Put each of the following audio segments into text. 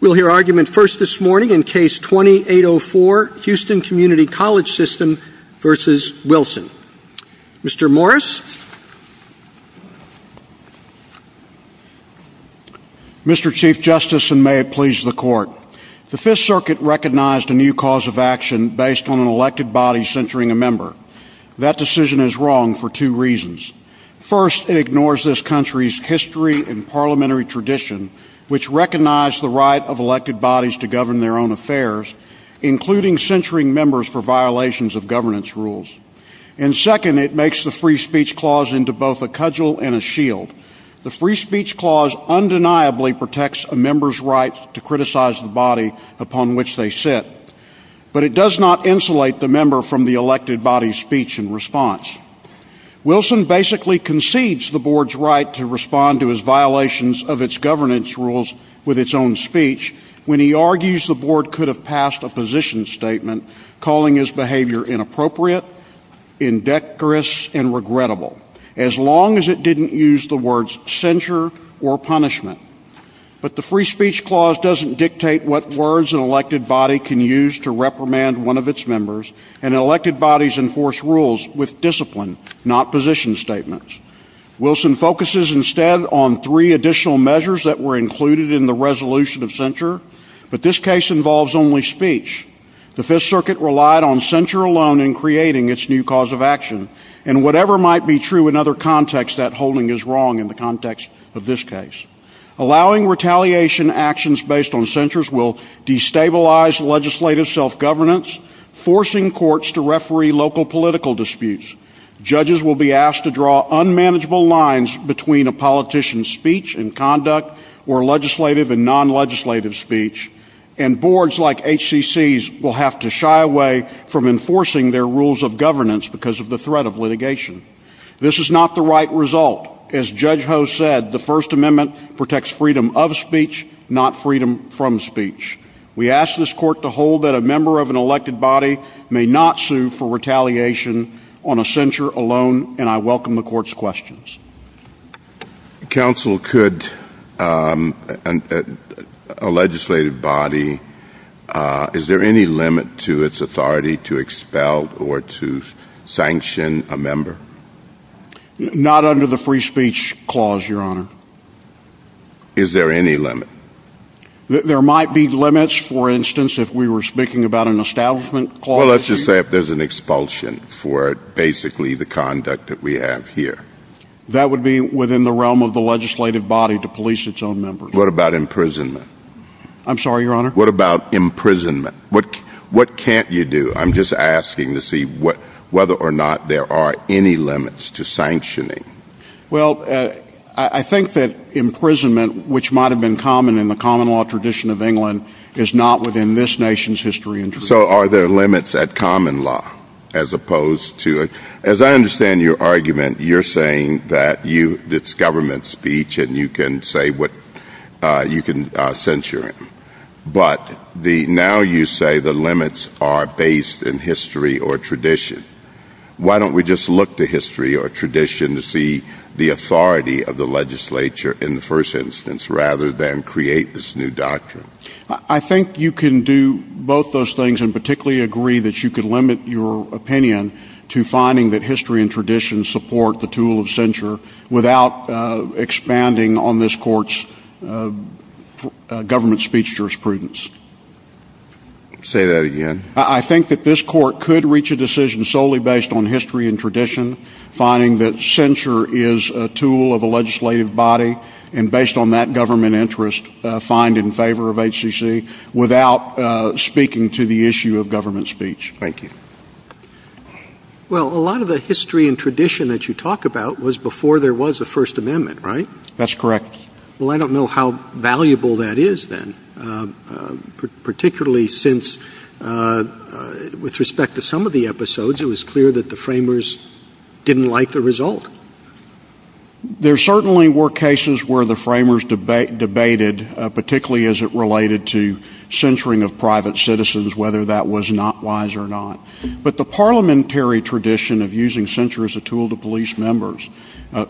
We'll hear argument first this morning in Case 2804, Houston Community College System v. Wilson. Mr. Morris. Mr. Chief Justice, and may it please the Court, the Fifth Circuit recognized a new cause of action based on an elected body censoring a member. That decision is wrong for two reasons. First, it ignores this country's history and parliamentary tradition, which recognize the right of elected bodies to govern their own affairs, including censoring members for violations of governance rules. And second, it makes the Free Speech Clause into both a cudgel and a shield. The Free Speech Clause undeniably protects a member's right to criticize the body upon which they sit. But it does not insulate the member from the elected body's speech and response. Wilson basically concedes the board's right to respond to its violations of its governance rules with its own speech when he argues the board could have passed a position statement calling his behavior inappropriate, indecorous, and regrettable, as long as it didn't use the words censure or punishment. But the Free Speech Clause doesn't dictate what words an elected body can use to reprimand one of its members, and elected bodies enforce rules with discipline, not position statements. Wilson focuses instead on three additional measures that were included in the resolution of censure, but this case involves only speech. The Fifth Circuit relied on censure alone in creating its new cause of action, and whatever might be true in other contexts, that holding is wrong in the context of this case. Allowing retaliation actions based on censures will destabilize legislative self-governance, forcing courts to referee local political disputes. Judges will be asked to draw unmanageable lines between a politician's speech and conduct or legislative and non-legislative speech, and boards like HCC's will have to shy away from enforcing their rules of governance because of the threat of litigation. This is not the right result. As Judge Ho said, the First Amendment protects freedom of speech, not freedom from speech. We ask this Court to hold that a member of an elected body may not sue for retaliation on a censure alone, and I welcome the Court's questions. Counsel, could a legislative body, is there any limit to its authority to expel or to sanction a member? Not under the Free Speech Clause, Your Honor. Is there any limit? There might be limits, for instance, if we were speaking about an Establishment Clause. Well, let's just say if there's an expulsion for basically the conduct that we have here. That would be within the realm of the legislative body to police its own member. What about imprisonment? I'm sorry, Your Honor? What about imprisonment? What can't you do? I'm just asking to see whether or not there are any limits to sanctioning. Well, I think that imprisonment, which might have been common in the common law tradition of England, is not within this nation's history. So are there limits at common law? As I understand your argument, you're saying that it's government speech and you can censure him. But now you say the limits are based in history or tradition. Why don't we just look to history or tradition to see the authority of the legislature in the first instance rather than create this new doctrine? I think you can do both those things and particularly agree that you could limit your opinion to finding that history and tradition support the tool of censure without expanding on this Court's government speech jurisprudence. Say that again? I think that this Court could reach a decision solely based on history and tradition, finding that censure is a tool of a legislative body, and based on that government interest, find in favor of HCC without speaking to the issue of government speech. Thank you. Well, a lot of the history and tradition that you talk about was before there was a First Amendment, right? That's correct. Well, I don't know how valuable that is then, particularly since with respect to some of the episodes, it was clear that the framers didn't like the result. There certainly were cases where the framers debated, particularly as it related to censuring of private citizens, whether that was not wise or not. But the parliamentary tradition of using censure as a tool to police members,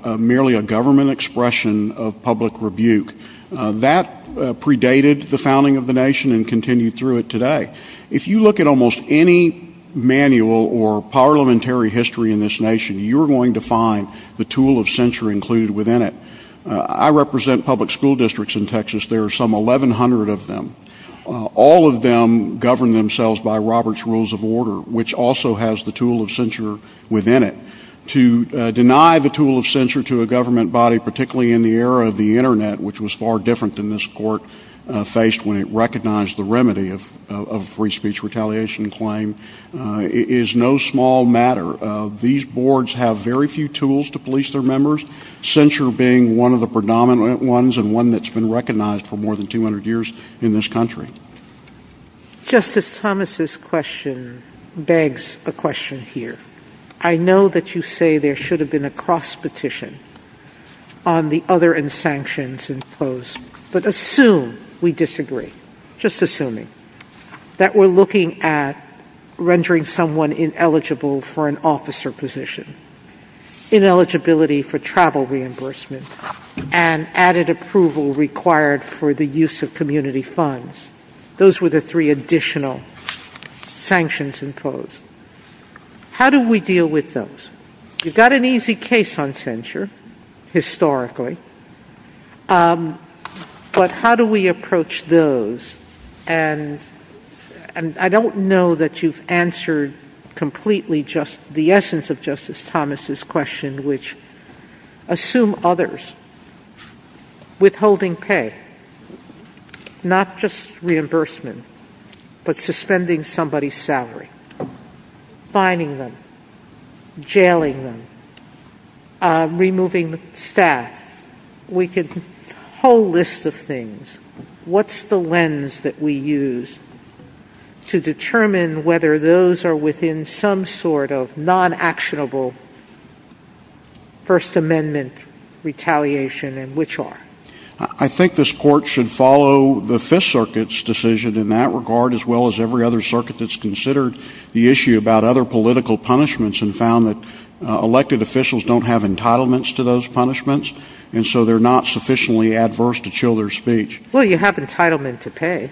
merely a government expression of public rebuke, that predated the founding of the nation and continued through it today. If you look at almost any manual or parliamentary history in this nation, you're going to find the tool of censure included within it. I represent public school districts in Texas. There are some 1,100 of them. All of them govern themselves by Robert's Rules of Order, which also has the tool of censure within it. To deny the tool of censure to a government body, particularly in the era of the Internet, which was far different than this court faced when it recognized the remedy of free speech retaliation claim, is no small matter. These boards have very few tools to police their members, censure being one of the predominant ones and one that's been recognized for more than 200 years in this country. Justice Thomas' question begs a question here. I know that you say there should have been a cross petition on the other and sanctions imposed, but assume we disagree, just assuming, that we're looking at rendering someone ineligible for an officer position, ineligibility for travel reimbursement, and added approval required for the use of community funds. Those were the three additional sanctions imposed. How do we deal with those? You've got an easy case on censure, historically, but how do we approach those? I don't know that you've answered completely the essence of Justice Thomas' question, which assume others withholding pay, not just reimbursement, but suspending somebody's salary, fining them, jailing them, removing staff. We could do a whole list of things. What's the lens that we use to determine whether those are within some sort of non-actionable First Amendment retaliation and which are? I think this court should follow the Fifth Circuit's decision in that regard, as well as every other circuit that's considered the issue about other political punishments and found that elected officials don't have entitlements to those punishments, and so they're not sufficiently adverse to chill their speech. Well, you have entitlement to pay.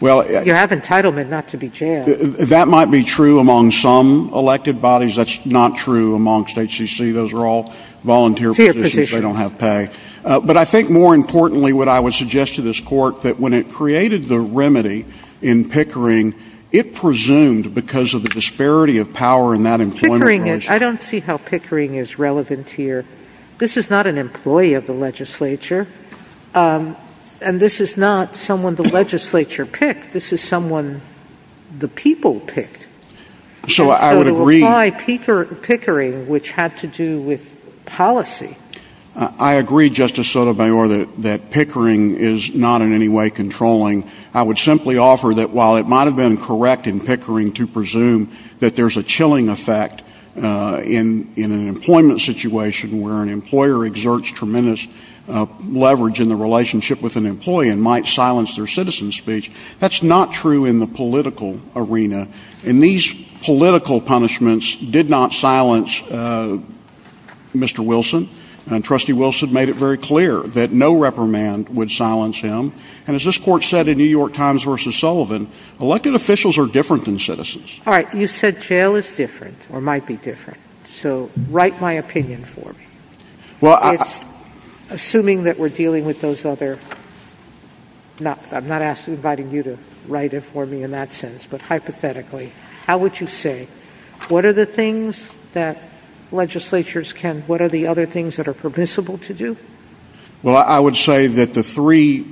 You have entitlement not to be jailed. That might be true among some elected bodies. That's not true amongst HCC. Those are all volunteer positions. They don't have pay. But I think, more importantly, what I would suggest to this court, that when it created the remedy in Pickering, it presumed, because of the disparity of power in that employment race— Pickering is—I don't see how Pickering is relevant here. This is not an employee of the legislature, and this is not someone the legislature picked. This is someone the people picked. So I would agree— I agree, Justice Sotomayor, that Pickering is not in any way controlling. I would simply offer that while it might have been correct in Pickering to presume that there's a chilling effect in an employment situation where an employer exerts tremendous leverage in the relationship with an employee and might silence their citizen speech, that's not true in the political arena. And these political punishments did not silence Mr. Wilson. And Trustee Wilson made it very clear that no reprimand would silence him. And as this court said in New York Times v. Sullivan, elected officials are different than citizens. All right. You said jail is different or might be different. So write my opinion for me. Well, I— Assuming that we're dealing with those other—I'm not inviting you to write it for me in that sense, but hypothetically, how would you say, what are the things that legislatures can—what are the other things that are permissible to do? Well, I would say that the three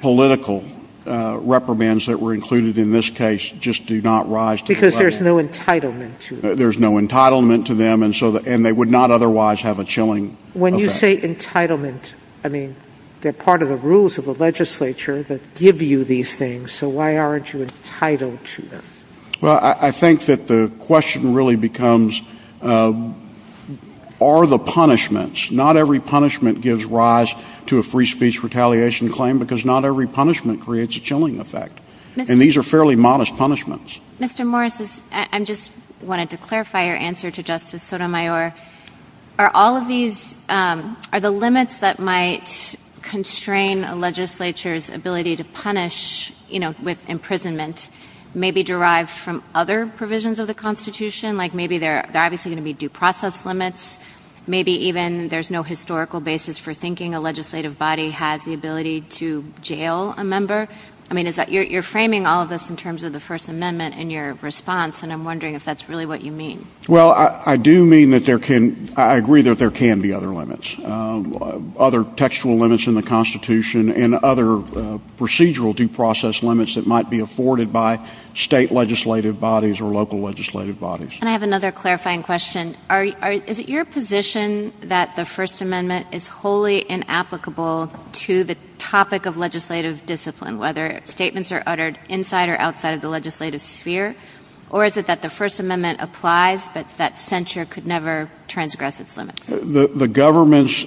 political reprimands that were included in this case just do not rise to the level— Because there's no entitlement to them. There's no entitlement to them, and they would not otherwise have a chilling effect. When you say entitlement, I mean, they're part of the rules of the legislature that give you these things, so why aren't you entitled to them? Well, I think that the question really becomes, are the punishments—not every punishment gives rise to a free speech retaliation claim because not every punishment creates a chilling effect. And these are fairly modest punishments. Mr. Morris, I just wanted to clarify your answer to Justice Sotomayor. Are all of these—are the limits that might constrain a legislature's ability to punish, you know, with imprisonment maybe derived from other provisions of the Constitution? Like maybe there are obviously going to be due process limits. Maybe even there's no historical basis for thinking a legislative body has the ability to jail a member. I mean, you're framing all of this in terms of the First Amendment in your response, and I'm wondering if that's really what you mean. Well, I do mean that there can—I agree that there can be other limits, other textual limits in the Constitution and other procedural due process limits that might be afforded by state legislative bodies or local legislative bodies. And I have another clarifying question. Is it your position that the First Amendment is wholly inapplicable to the topic of legislative discipline, whether statements are uttered inside or outside of the legislative sphere? Or is it that the First Amendment applies, but that censure could never transgress its limits? The government's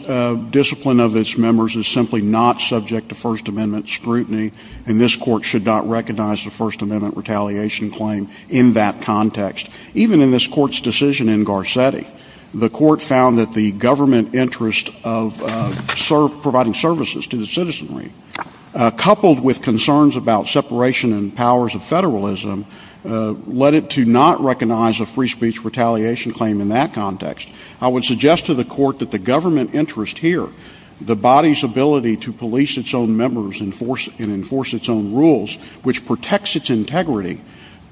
discipline of its members is simply not subject to First Amendment scrutiny, and this Court should not recognize the First Amendment retaliation claim in that context. Even in this Court's decision in Garcetti, the Court found that the government interest of providing services to the citizenry, coupled with concerns about separation and powers of federalism, led it to not recognize a free speech retaliation claim in that context. I would suggest to the Court that the government interest here, the body's ability to police its own members and enforce its own rules, which protects its integrity,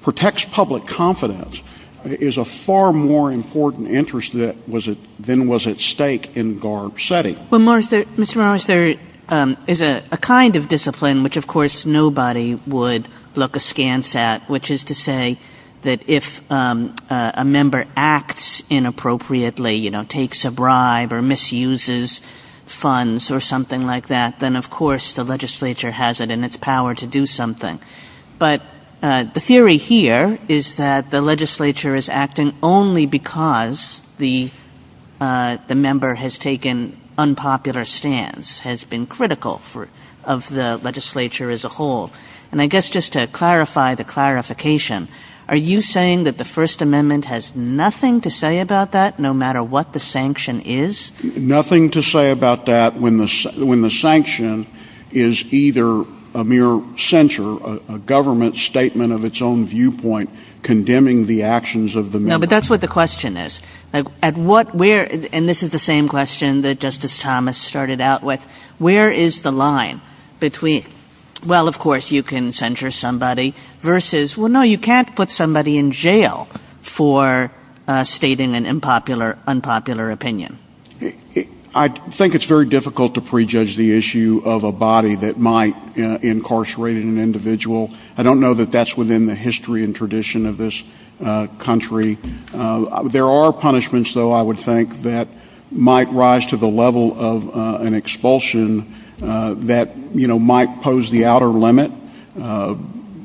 protects public confidence, is a far more important interest than was at stake in Garcetti. Well, Mr. Morris, there is a kind of discipline which, of course, nobody would look askance at, which is to say that if a member acts inappropriately, you know, takes a bribe or misuses funds or something like that, then of course the legislature has it in its power to do something. But the theory here is that the legislature is acting only because the member has taken unpopular stance, has been critical of the legislature as a whole. And I guess just to clarify the clarification, are you saying that the First Amendment has nothing to say about that, no matter what the sanction is? Nothing to say about that when the sanction is either a mere censure, a government statement of its own viewpoint condemning the actions of the member. No, but that's what the question is. And this is the same question that Justice Thomas started out with. Where is the line between, well, of course, you can censure somebody, versus, well, no, you can't put somebody in jail for stating an unpopular opinion. I think it's very difficult to prejudge the issue of a body that might incarcerate an individual. I don't know that that's within the history and tradition of this country. There are punishments, though, I would think, that might rise to the level of an expulsion that might pose the outer limit.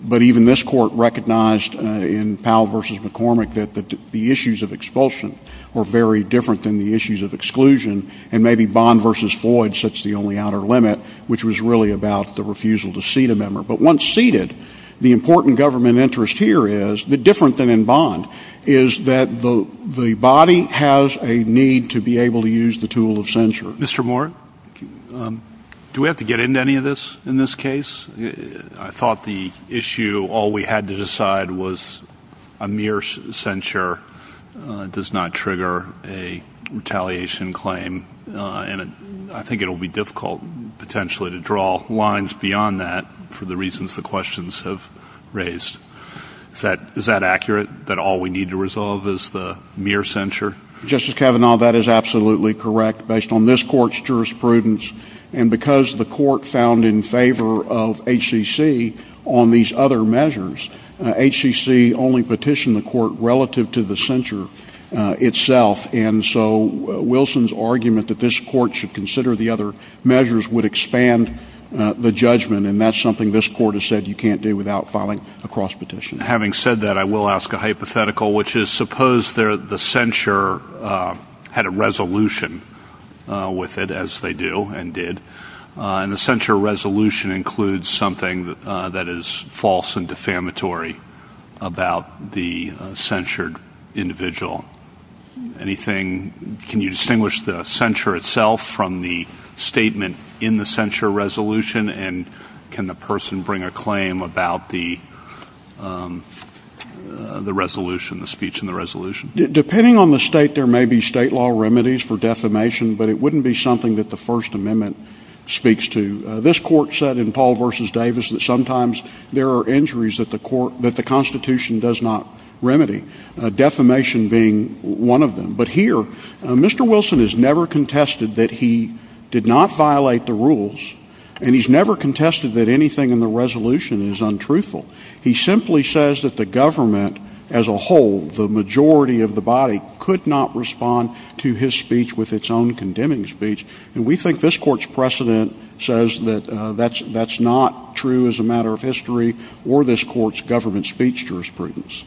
But even this Court recognized in Powell v. McCormick that the issues of expulsion were very different than the issues of exclusion. And maybe Bond v. Floyd sets the only outer limit, which was really about the refusal to seat a member. But once seated, the important government interest here is, different than in Bond, is that the body has a need to be able to use the tool of censure. Mr. Moore, do we have to get into any of this in this case? I thought the issue, all we had to decide was a mere censure does not trigger a retaliation claim. And I think it will be difficult, potentially, to draw lines beyond that for the reasons the questions have raised. Is that accurate, that all we need to resolve is the mere censure? Justice Kavanaugh, that is absolutely correct, based on this Court's jurisprudence. And because the Court found in favor of HCC on these other measures, HCC only petitioned the Court relative to the censure itself. And so Wilson's argument that this Court should consider the other measures would expand the judgment. And that's something this Court has said you can't do without filing a cross-petition. Having said that, I will ask a hypothetical, which is suppose the censure had a resolution with it, as they do and did, and the censure resolution includes something that is false and defamatory about the censured individual. Can you distinguish the censure itself from the statement in the censure resolution? And can the person bring a claim about the resolution, the speech in the resolution? Depending on the state, there may be state law remedies for defamation, but it wouldn't be something that the First Amendment speaks to. This Court said in Paul v. Davis that sometimes there are injuries that the Constitution does not remedy. Defamation being one of them. But here, Mr. Wilson has never contested that he did not violate the rules, and he's never contested that anything in the resolution is untruthful. He simply says that the government as a whole, the majority of the body, could not respond to his speech with its own condemning speech. And we think this Court's precedent says that that's not true as a matter of history, or this Court's government speech jurisprudence.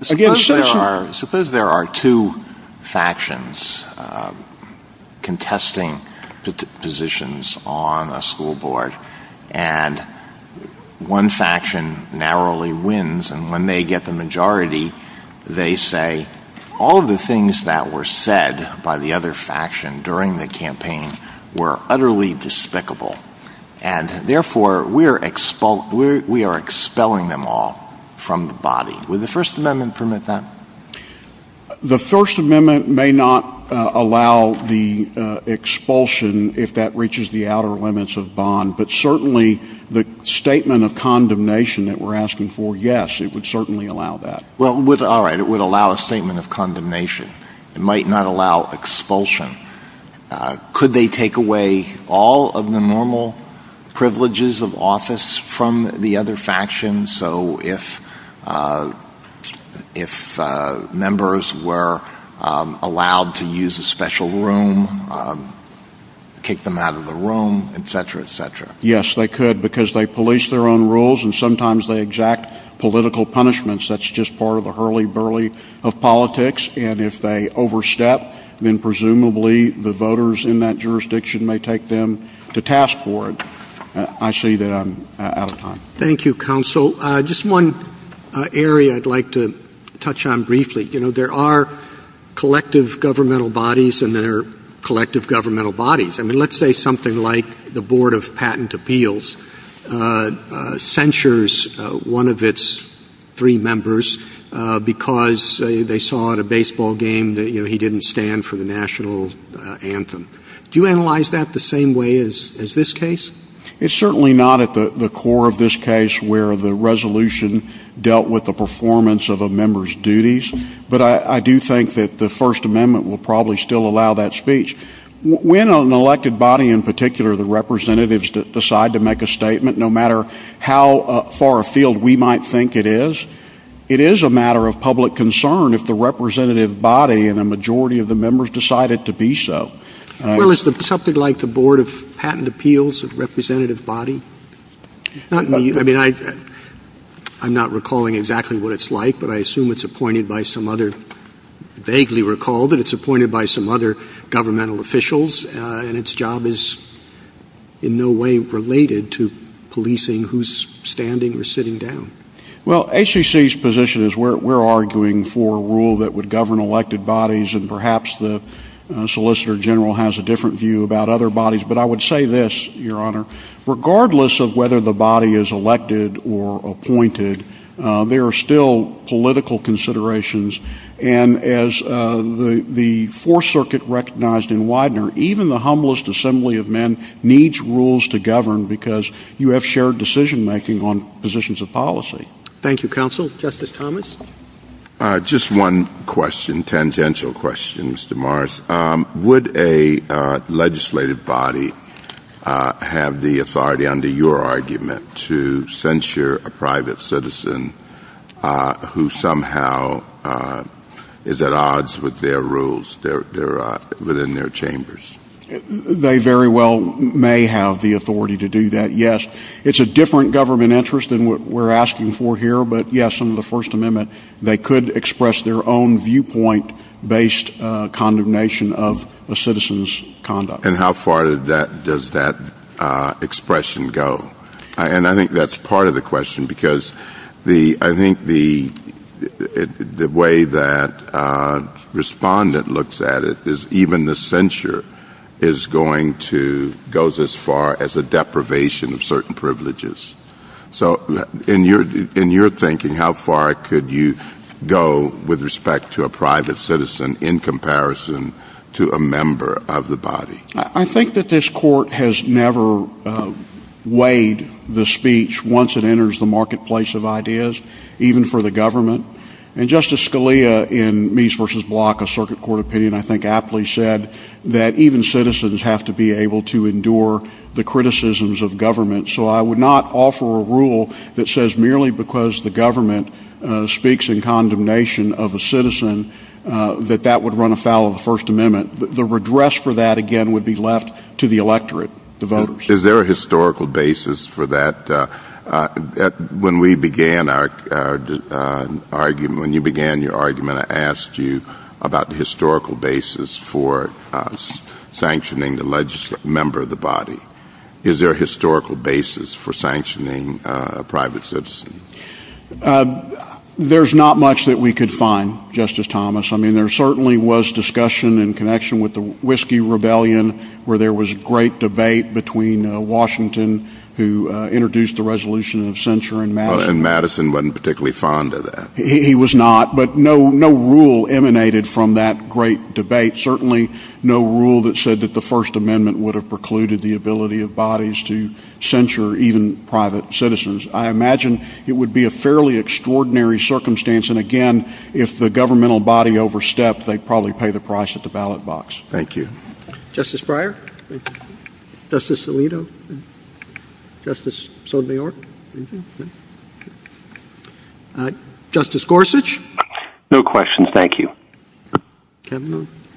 Suppose there are two factions contesting positions on a school board, and one faction narrowly wins, and when they get the majority, they say, all of the things that were said by the other faction during the campaign were utterly despicable, and therefore we are expelling them all from the body. Would the First Amendment permit that? The First Amendment may not allow the expulsion if that reaches the outer limits of bond, but certainly the statement of condemnation that we're asking for, yes, it would certainly allow that. All right, it would allow a statement of condemnation. It might not allow expulsion. Could they take away all of the normal privileges of office from the other faction? So if members were allowed to use a special room, kick them out of the room, etc., etc.? Yes, they could, because they police their own rules, and sometimes they exact political punishments. That's just part of the hurly-burly of politics, and if they overstep, then presumably the voters in that jurisdiction may take them to task for it. I see that I'm out of time. Thank you, Counsel. Just one area I'd like to touch on briefly. You know, there are collective governmental bodies, and there are collective governmental bodies. I mean, let's say something like the Board of Patent Appeals censures one of its three members because they saw at a baseball game that he didn't stand for the national anthem. Do you analyze that the same way as this case? It's certainly not at the core of this case where the resolution dealt with the performance of a member's duties, but I do think that the First Amendment will probably still allow that speech. When an elected body, in particular the representatives that decide to make a statement, no matter how far afield we might think it is, it is a matter of public concern if the representative body and a majority of the members decide it to be so. Well, is something like the Board of Patent Appeals a representative body? I mean, I'm not recalling exactly what it's like, but I assume it's appointed by some other – vaguely recall that it's appointed by some other governmental officials, and its job is in no way related to policing who's standing or sitting down. Well, ACC's position is we're arguing for a rule that would govern elected bodies, and perhaps the Solicitor General has a different view about other bodies, but I would say this, Your Honor. Regardless of whether the body is elected or appointed, there are still political considerations, and as the Fourth Circuit recognized in Widener, even the humblest assembly of men needs rules to govern because you have shared decision-making on positions of policy. Thank you, Counsel. Justice Thomas? Just one question, tangential question, Mr. Morris. Would a legislative body have the authority, under your argument, to censure a private citizen who somehow is at odds with their rules within their chambers? They very well may have the authority to do that, yes. It's a different government interest than what we're asking for here, but yes, under the First Amendment, they could express their own viewpoint-based condemnation of a citizen's conduct. And how far does that expression go? And I think that's part of the question because I think the way that Respondent looks at it is even the censure is going to go as far as a deprivation of certain privileges. So in your thinking, how far could you go with respect to a private citizen in comparison to a member of the body? I think that this Court has never weighed the speech once it enters the marketplace of ideas, even for the government. And Justice Scalia, in Means v. Block, a circuit court opinion, I think aptly said that even citizens have to be able to endure the criticisms of government. So I would not offer a rule that says merely because the government speaks in condemnation of a citizen that that would run afoul of the First Amendment. The redress for that, again, would be left to the electorate, the voters. Is there a historical basis for that? When we began our argument, when you began your argument, I asked you about the historical basis for sanctioning a member of the body. Is there a historical basis for sanctioning a private citizen? There's not much that we could find, Justice Thomas. I mean, there certainly was discussion in connection with the Whiskey Rebellion where there was great debate between Washington, who introduced the resolution of censure, and Madison. And Madison wasn't particularly fond of that. He was not. But no rule emanated from that great debate, certainly no rule that said that the First Amendment would have precluded the ability of bodies to censure even private citizens. I imagine it would be a fairly extraordinary circumstance. And again, if the governmental body overstepped, they'd probably pay the price at the ballot box. Thank you. Justice Breyer? Justice Alito? Justice Sotomayor? Justice Gorsuch? No questions, thank you.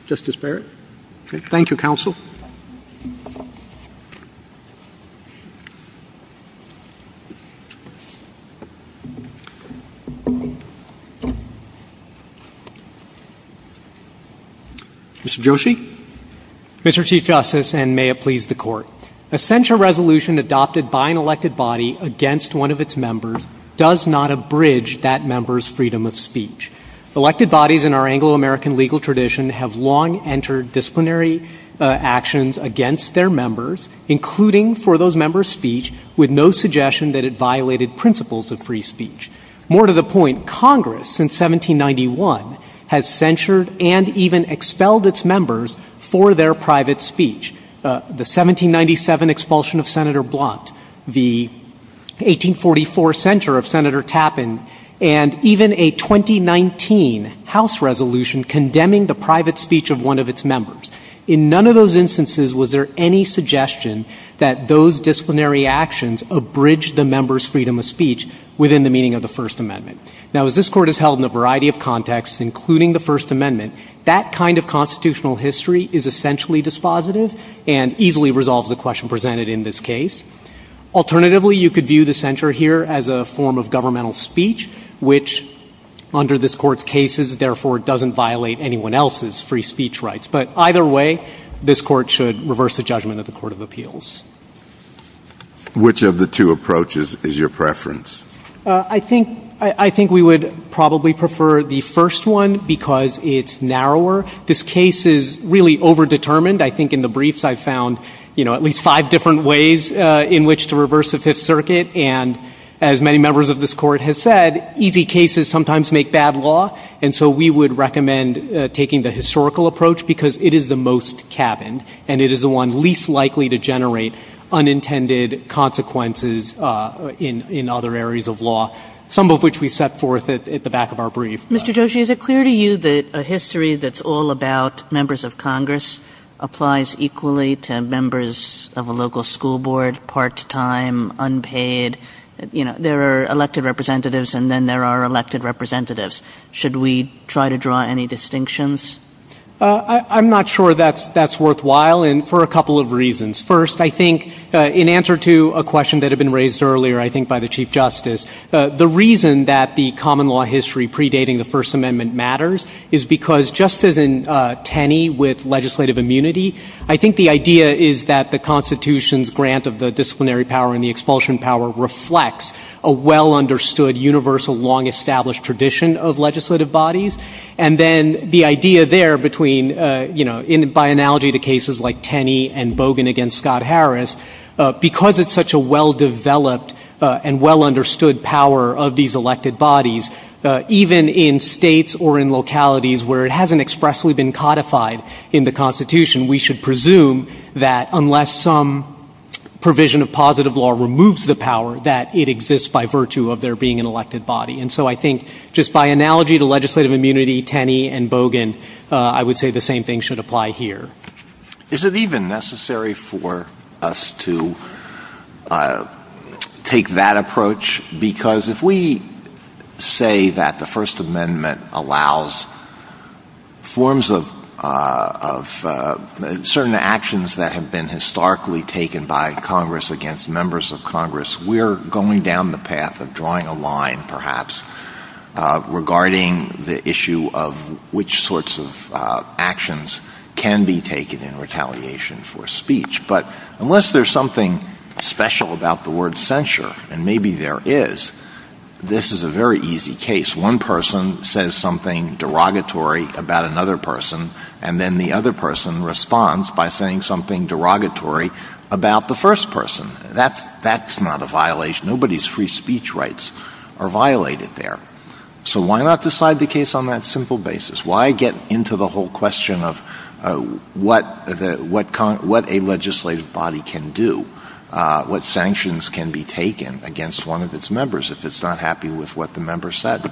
Justice Barrett? Thank you, Counsel. Mr. Joshi? The censure resolution adopted by an elected body against one of its members does not abridge that member's freedom of speech. Elected bodies in our Anglo-American legal tradition have long entered disciplinary actions against their members, including for those members' speech, with no suggestion that it violated principles of free speech. More to the point, Congress, since 1791, has censured and even expelled its members for their private speech. The 1797 expulsion of Senator Blunt, the 1844 censure of Senator Tappan, and even a 2019 House resolution condemning the private speech of one of its members. In none of those instances was there any suggestion that those disciplinary actions abridged the member's freedom of speech within the meaning of the First Amendment. Now, as this Court has held in a variety of contexts, including the First Amendment, that kind of constitutional history is essentially dispositive and easily resolves the question presented in this case. Alternatively, you could view the censure here as a form of governmental speech, which under this Court's cases, therefore, doesn't violate anyone else's free speech rights. But either way, this Court should reverse the judgment of the Court of Appeals. Which of the two approaches is your preference? I think we would probably prefer the first one because it's narrower. This case is really over-determined. I think in the briefs I found, you know, at least five different ways in which to reverse the Fifth Circuit. And as many members of this Court have said, easy cases sometimes make bad law. And so we would recommend taking the historical approach because it is the most cabined and it is the one least likely to generate unintended consequences in other areas of law, some of which we set forth at the back of our brief. Mr. Joshi, is it clear to you that a history that's all about members of Congress applies equally to members of a local school board, part-time, unpaid? You know, there are elected representatives and then there are elected representatives. Should we try to draw any distinctions? I'm not sure that's worthwhile and for a couple of reasons. First, I think in answer to a question that had been raised earlier, I think, by the Chief Justice, the reason that the common law history predating the First Amendment matters is because just as in Tenney with legislative immunity, I think the idea is that the Constitution's grant of the disciplinary power and the expulsion power reflects a well-understood, universal, long-established tradition of legislative bodies. And then the idea there between, you know, by analogy to cases like Tenney and Bogan against Scott Harris, because it's such a well-developed and well-understood power of these elected bodies, even in states or in localities where it hasn't expressly been codified in the Constitution, we should presume that unless some provision of positive law removes the power, that it exists by virtue of there being an elected body. And so I think just by analogy to legislative immunity, Tenney and Bogan, I would say the same thing should apply here. Is it even necessary for us to take that approach? Because if we say that the First Amendment allows certain actions that have been historically taken by Congress against members of Congress, we're going down the path of drawing a line, perhaps, regarding the issue of which sorts of actions can be taken in retaliation for speech. But unless there's something special about the word censure, and maybe there is, this is a very easy case. One person says something derogatory about another person, and then the other person responds by saying something derogatory about the first person. That's not a violation. Nobody's free speech rights are violated there. So why not decide the case on that simple basis? Why get into the whole question of what a legislative body can do, what sanctions can be taken against one of its members if it's not happy with what the member said?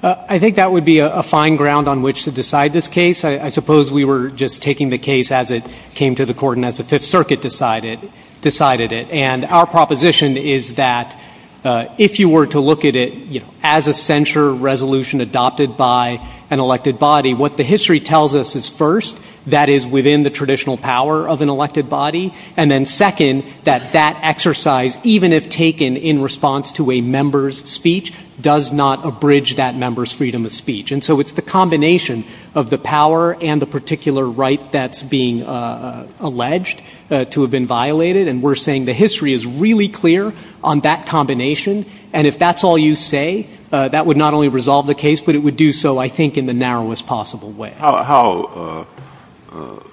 I think that would be a fine ground on which to decide this case. I suppose we were just taking the case as it came to the Court and as the Fifth Circuit decided it. And our proposition is that if you were to look at it as a censure resolution adopted by an elected body, what the history tells us is, first, that is within the traditional power of an elected body, and then, second, that that exercise, even if taken in response to a member's speech, does not abridge that member's freedom of speech. And so it's the combination of the power and the particular right that's being alleged to have been violated, and we're saying the history is really clear on that combination. And if that's all you say, that would not only resolve the case, but it would do so, I think, in the narrowest possible way. How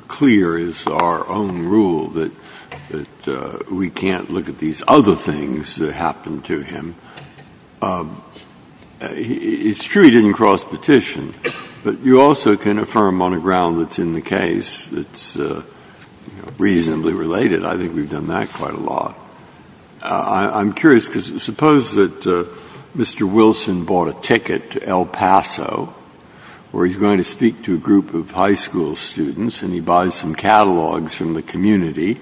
clear is our own rule that we can't look at these other things that happened to him? It's true he didn't cross petition, but you also can affirm on a ground that's in the case that's reasonably related. I think we've done that quite a lot. I'm curious because suppose that Mr. Wilson bought a ticket to El Paso where he's going to speak to a group of high school students and he buys some catalogs from the community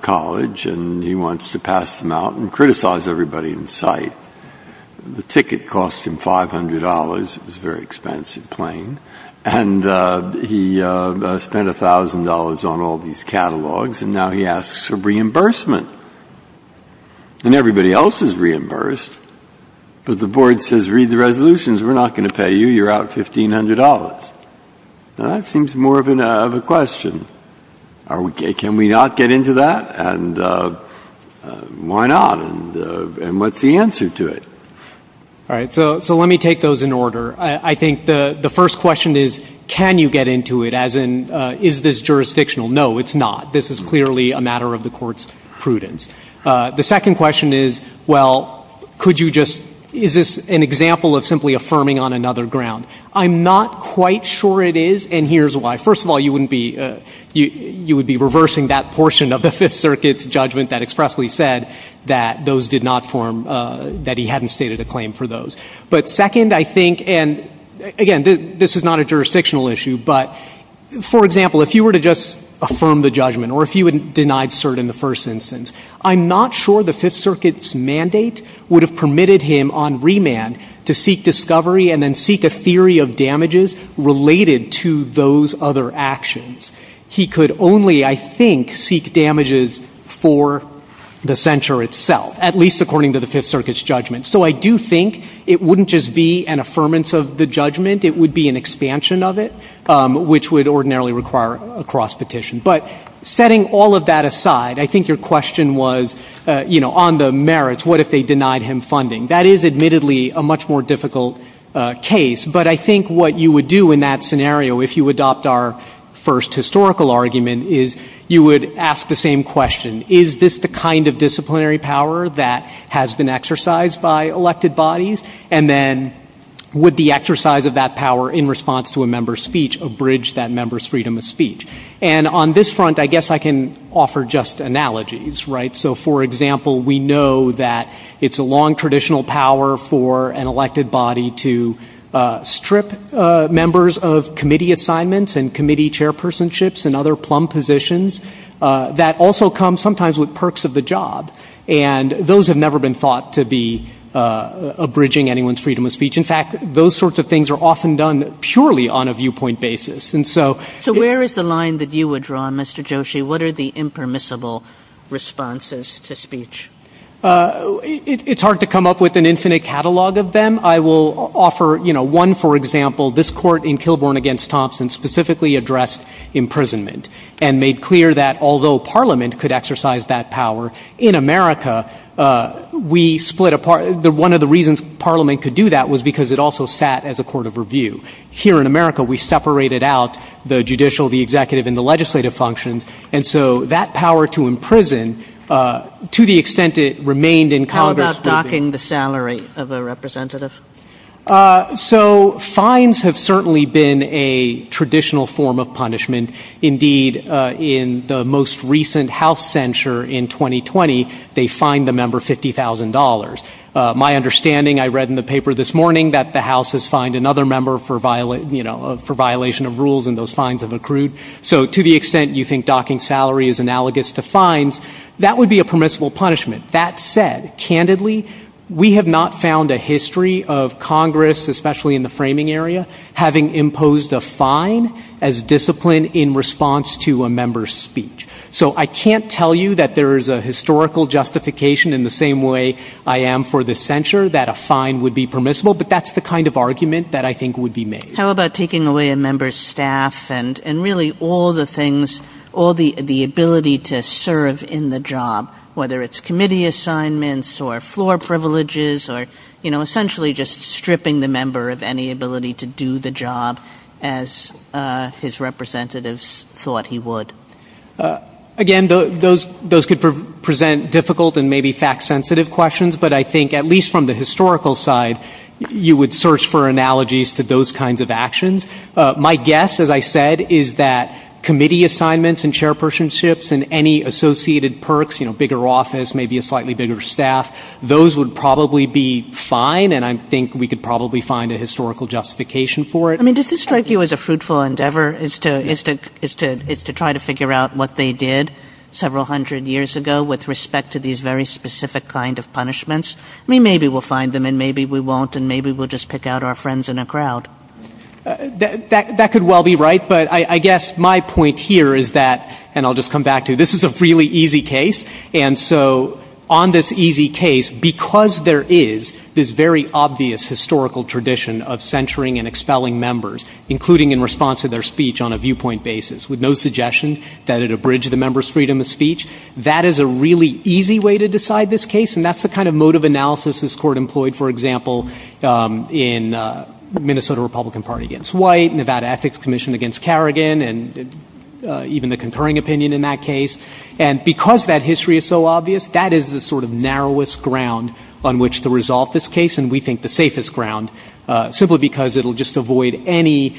college and he wants to pass them out and criticize everybody in sight. The ticket cost him $500. It was a very expensive plane. And he spent $1,000 on all these catalogs, and now he asks for reimbursement. And everybody else is reimbursed, but the board says, read the resolutions. We're not going to pay you. You're out $1,500. Now, that seems more of a question. Can we not get into that? And why not? And what's the answer to it? All right. So let me take those in order. I think the first question is, can you get into it, as in, is this jurisdictional? No, it's not. This is clearly a matter of the Court's prudence. The second question is, well, could you just – is this an example of simply affirming on another ground? I'm not quite sure it is, and here's why. First of all, you wouldn't be – you would be reversing that portion of the Fifth Circuit's judgment that expressly said that those did not form – that he hadn't stated a claim for those. But second, I think – and again, this is not a jurisdictional issue, but for example, if you were to just affirm the judgment or if you had denied cert in the first instance, I'm not sure the Fifth Circuit's mandate would have permitted him on remand to seek discovery and then seek a theory of damages related to those other actions. He could only, I think, seek damages for the censure itself, at least according to the Fifth Circuit's judgment. So I do think it wouldn't just be an affirmance of the judgment. It would be an expansion of it, which would ordinarily require a cross-petition. But setting all of that aside, I think your question was, you know, on the merits, what if they denied him funding? That is admittedly a much more difficult case. But I think what you would do in that scenario, if you adopt our first historical argument, is you would ask the same question. Is this the kind of disciplinary power that has been exercised by elected bodies? And then would the exercise of that power in response to a member's speech abridge that member's freedom of speech? And on this front, I guess I can offer just analogies, right? So, for example, we know that it's a long traditional power for an elected body to strip members of committee assignments and committee chairpersonships and other plumb positions that also come sometimes with perks of the job. And those have never been thought to be abridging anyone's freedom of speech. In fact, those sorts of things are often done purely on a viewpoint basis. So where is the line that you would draw, Mr. Joshi? What are the impermissible responses to speech? It's hard to come up with an infinite catalog of them. I will offer, you know, one, for example, this court in Kilbourne against Thompson specifically addressed imprisonment and made clear that although Parliament could exercise that power, in America, we split apart. One of the reasons Parliament could do that was because it also sat as a court of review. Here in America, we separated out the judicial, the executive, and the legislative functions. And so that power to imprison, to the extent it remained in Congress. How about docking the salary of a representative? So fines have certainly been a traditional form of punishment. Indeed, in the most recent House censure in 2020, they fined the member $50,000. My understanding, I read in the paper this morning, that the House has fined another member for violation of rules and those fines have accrued. So to the extent you think docking salary is analogous to fines, that would be a permissible punishment. That said, candidly, we have not found a history of Congress, especially in the framing area, having imposed a fine as discipline in response to a member's speech. So I can't tell you that there is a historical justification, in the same way I am for this censure, that a fine would be permissible, but that's the kind of argument that I think would be made. How about taking away a member's staff and really all the things, all the ability to serve in the job, whether it's committee assignments or floor privileges or, you know, Again, those could present difficult and maybe fact-sensitive questions, but I think at least from the historical side, you would search for analogies to those kinds of actions. My guess, as I said, is that committee assignments and chairpersonships and any associated perks, you know, bigger office, maybe a slightly bigger staff, those would probably be fine and I think we could probably find a historical justification for it. I mean, does this strike you as a fruitful endeavor, is to try to figure out what they did several hundred years ago with respect to these very specific kind of punishments? I mean, maybe we'll find them and maybe we won't and maybe we'll just pick out our friends in a crowd. That could well be right, but I guess my point here is that, and I'll just come back to it, this is a really easy case and so on this easy case, because there is this very obvious historical tradition of censoring and expelling members, including in response to their speech on a viewpoint basis, with no suggestion that it abridged the member's freedom of speech. That is a really easy way to decide this case and that's the kind of mode of analysis this court employed, for example, in Minnesota Republican Party against White, Nevada Ethics Commission against Carrigan and even the concurring opinion in that case. And because that history is so obvious, that is the sort of narrowest ground on which to resolve this case and we think the safest ground, simply because it will just avoid any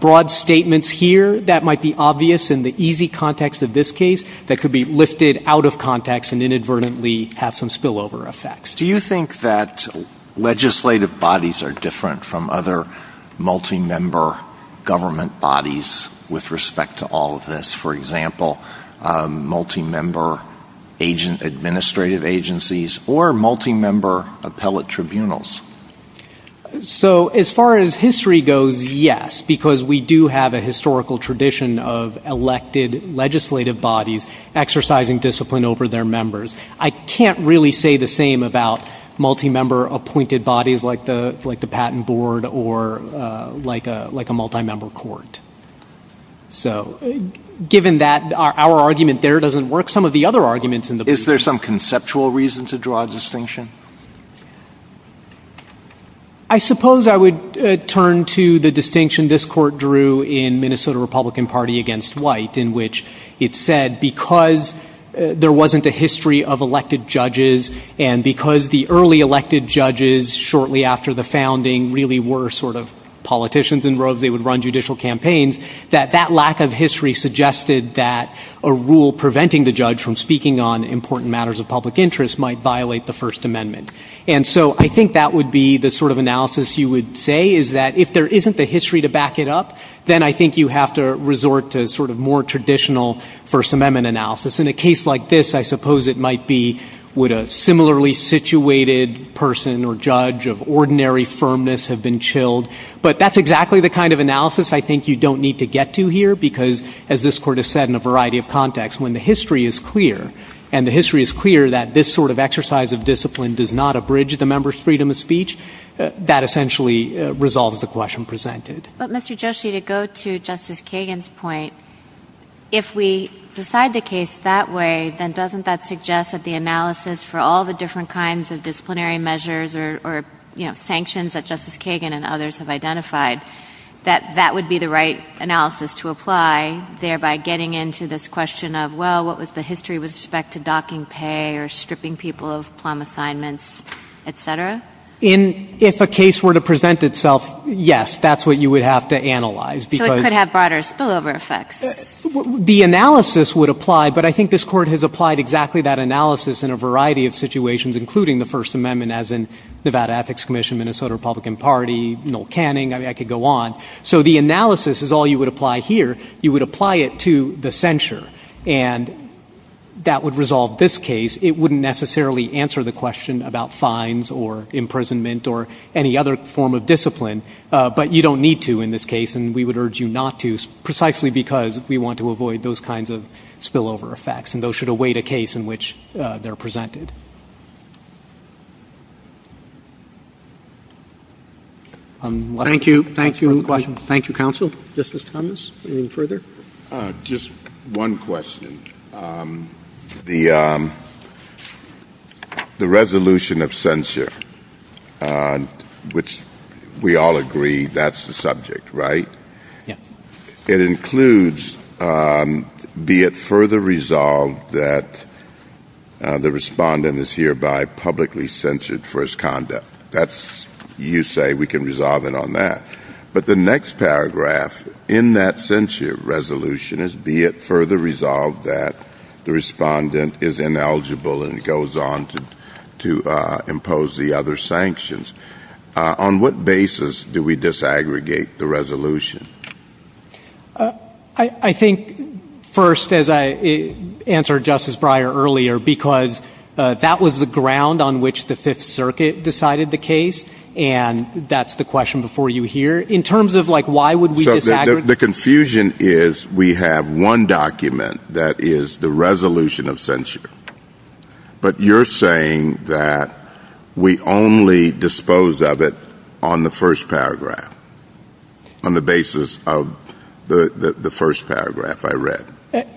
broad statements here that might be obvious in the easy context of this case that could be lifted out of context and inadvertently have some spillover effects. Do you think that legislative bodies are different from other multi-member government bodies with respect to all of this? For example, multi-member administrative agencies or multi-member appellate tribunals? So as far as history goes, yes, because we do have a historical tradition of elected legislative bodies exercising discipline over their members. I can't really say the same about multi-member appointed bodies like the patent board or like a multi-member court. So, given that our argument there doesn't work, some of the other arguments in the book... Is there some conceptual reason to draw a distinction? I suppose I would turn to the distinction this court drew in Minnesota Republican Party against White in which it said because there wasn't a history of elected judges and because the early elected judges shortly after the founding really were sort of politicians and they would run judicial campaigns, that that lack of history suggested that a rule preventing the judge from speaking on important matters of public interest might violate the First Amendment. And so I think that would be the sort of analysis you would say is that if there isn't a history to back it up, then I think you have to resort to sort of more traditional First Amendment analysis. In a case like this, I suppose it might be would a similarly situated person or judge of ordinary firmness have been chilled, but that's exactly the kind of analysis I think you don't need to get to here because as this court has said in a variety of contexts, when the history is clear and the history is clear that this sort of exercise of discipline does not abridge the member's freedom of speech, that essentially resolves the question presented. But Mr. Joshi, to go to Justice Kagan's point, if we decide the case that way, then doesn't that suggest that the analysis for all the different kinds of disciplinary measures or sanctions that Justice Kagan and others have identified, that that would be the right analysis to apply, thereby getting into this question of, well, what was the history with respect to docking pay or stripping people of plum assignments, et cetera? If a case were to present itself, yes, that's what you would have to analyze. So it could have broader spillover effects. The analysis would apply, but I think this court has applied exactly that analysis in a variety of situations, including the First Amendment as in Nevada Ethics Commission, Minnesota Republican Party, Noel Canning. I could go on. So the analysis is all you would apply here. You would apply it to the censure, and that would resolve this case. It wouldn't necessarily answer the question about fines or imprisonment or any other form of discipline, but you don't need to in this case, and we would urge you not to, precisely because we want to avoid those kinds of spillover effects, and those should await a case in which they're presented. Thank you. Thank you, counsel. Justice Thomas, anything further? Just one question. The resolution of censure, which we all agree that's the subject, right? Yes. It includes be it further resolved that the respondent is hereby publicly censured for his conduct. You say we can resolve it on that. But the next paragraph in that censure resolution is be it further resolved that the respondent is ineligible and goes on to impose the other sanctions. On what basis do we disaggregate the resolution? I think first, as I answered Justice Breyer earlier, because that was the ground on which the Fifth Circuit decided the case, and that's the question before you here. In terms of, like, why would we disaggregate? The confusion is we have one document that is the resolution of censure, but you're saying that we only dispose of it on the first paragraph, on the basis of the first paragraph I read.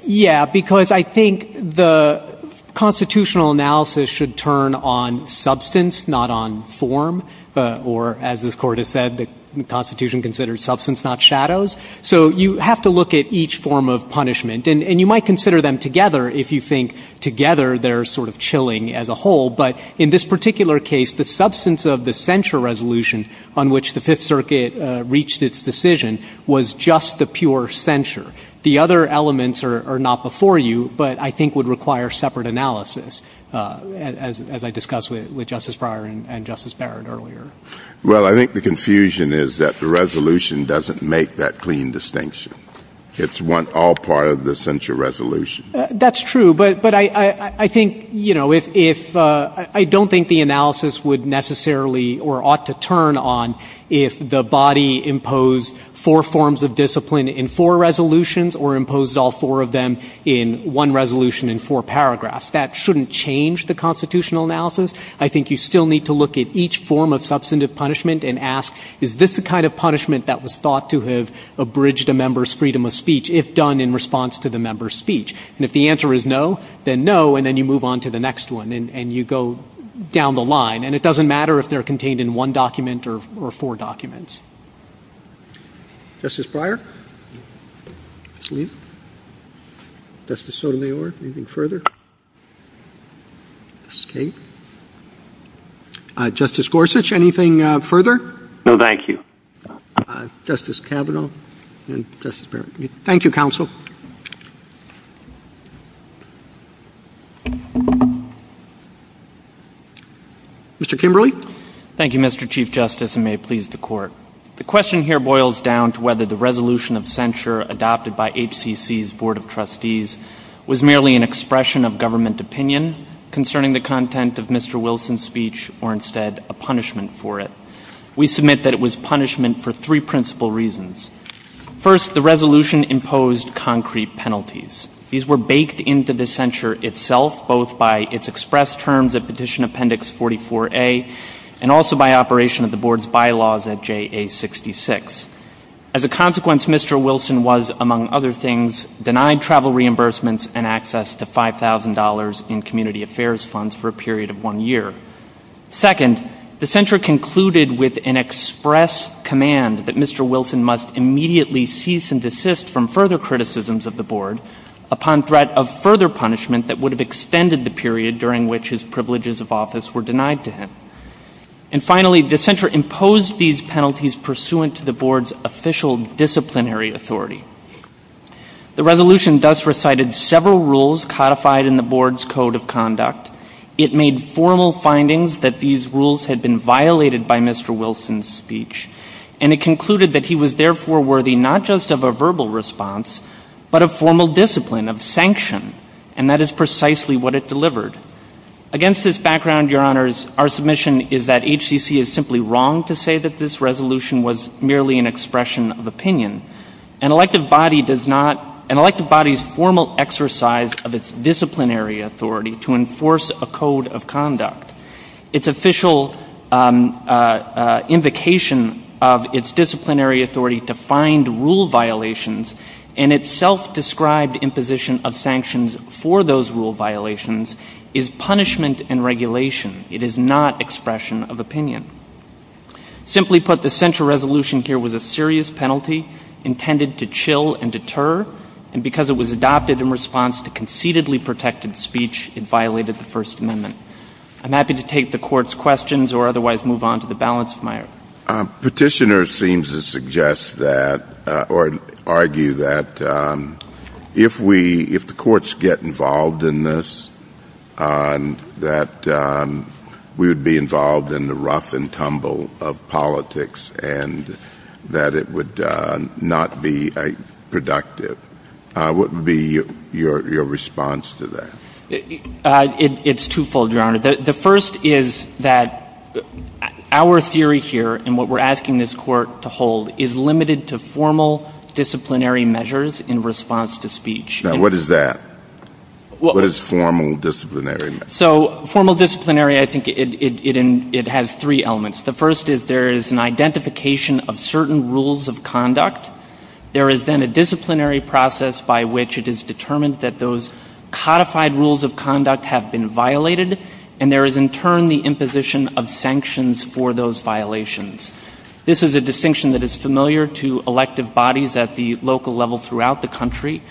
Yes, because I think the constitutional analysis should turn on substance, not on form, or, as this Court has said, the Constitution considers substance, not shadows. So you have to look at each form of punishment, and you might consider them together if you think together they're sort of chilling as a whole, but in this particular case, the substance of the censure resolution on which the Fifth Circuit reached its decision was just the pure censure. The other elements are not before you, but I think would require separate analysis, as I discussed with Justice Breyer and Justice Barrett earlier. Well, I think the confusion is that the resolution doesn't make that clean distinction. It's one — all part of the censure resolution. That's true, but I think, you know, if — I don't think the analysis would necessarily or ought to turn on if the body imposed four forms of discipline in four resolutions or imposed all four of them in one resolution in four paragraphs. That shouldn't change the constitutional analysis. I think you still need to look at each form of substantive punishment and ask, is this the kind of punishment that was thought to have abridged a member's freedom of speech if done in response to the member's speech? And if the answer is no, then no, and then you move on to the next one, and you go down the line. And it doesn't matter if they're contained in one document or four documents. Justice Breyer? Justice Sotomayor, anything further? Okay. Justice Gorsuch, anything further? No, thank you. Justice Kavanaugh and Justice Barrett. Thank you, counsel. Mr. Kimberly? Thank you, Mr. Chief Justice, and may it please the Court. The question here boils down to whether the resolution of censure adopted by HCC's Board of Trustees was merely an expression of government opinion concerning the content of Mr. Wilson's speech or instead a punishment for it. We submit that it was punishment for three principal reasons. First, the resolution imposed concrete penalties. These were baked into the censure itself both by its express terms of Petition Appendix 44A and also by operation of the Board's bylaws at JA 66. As a consequence, Mr. Wilson was, among other things, denied travel reimbursements and access to $5,000 in community affairs funds for a period of one year. Second, the censure concluded with an express command that Mr. Wilson must immediately cease and desist from further criticisms of the Board upon threat of further punishment that would have extended the period during which his privileges of office were denied to him. And finally, the censure imposed these penalties pursuant to the Board's official disciplinary authority. The resolution thus recited several rules codified in the Board's Code of Conduct. It made formal findings that these rules had been violated by Mr. Wilson's speech, and it concluded that he was therefore worthy not just of a verbal response but of formal discipline, of sanction, and that is precisely what it delivered. Against this background, Your Honors, our submission is that HCC is simply wrong to say that this resolution was merely an expression of opinion. An elected body's formal exercise of its disciplinary authority to enforce a Code of Conduct, its official invocation of its disciplinary authority to find rule violations, and its self-described imposition of sanctions for those rule violations is punishment and regulation. It is not expression of opinion. Simply put, the censure resolution here was a serious penalty intended to chill and deter, and because it was adopted in response to conceitedly protected speech, it violated the First Amendment. I'm happy to take the Court's questions or otherwise move on to the balance of my argument. Petitioner seems to suggest that or argue that if the courts get involved in this, that we would be involved in the rough and tumble of politics and that it would not be productive. What would be your response to that? The first is that our theory here and what we're asking this Court to hold is limited to formal disciplinary measures in response to speech. Now, what is that? What is formal disciplinary? So formal disciplinary, I think it has three elements. The first is there is an identification of certain rules of conduct. There is then a disciplinary process by which it is determined that those codified rules of conduct have been violated, and there is in turn the imposition of sanctions for those violations. This is a distinction that is familiar to elective bodies at the local level throughout the country.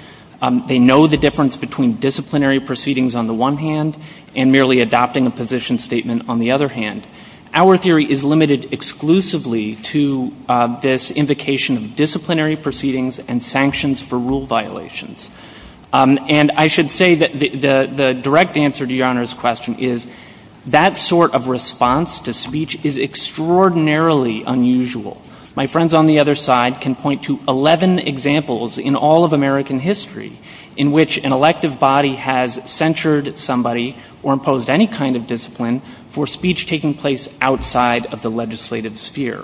They know the difference between disciplinary proceedings on the one hand and merely adopting a position statement on the other hand. Our theory is limited exclusively to this invocation of disciplinary proceedings and sanctions for rule violations. And I should say that the direct answer to Your Honor's question is that sort of response to speech is extraordinarily unusual. My friends on the other side can point to 11 examples in all of American history in which an elective body has censured somebody or imposed any kind of discipline for speech taking place outside of the legislative sphere.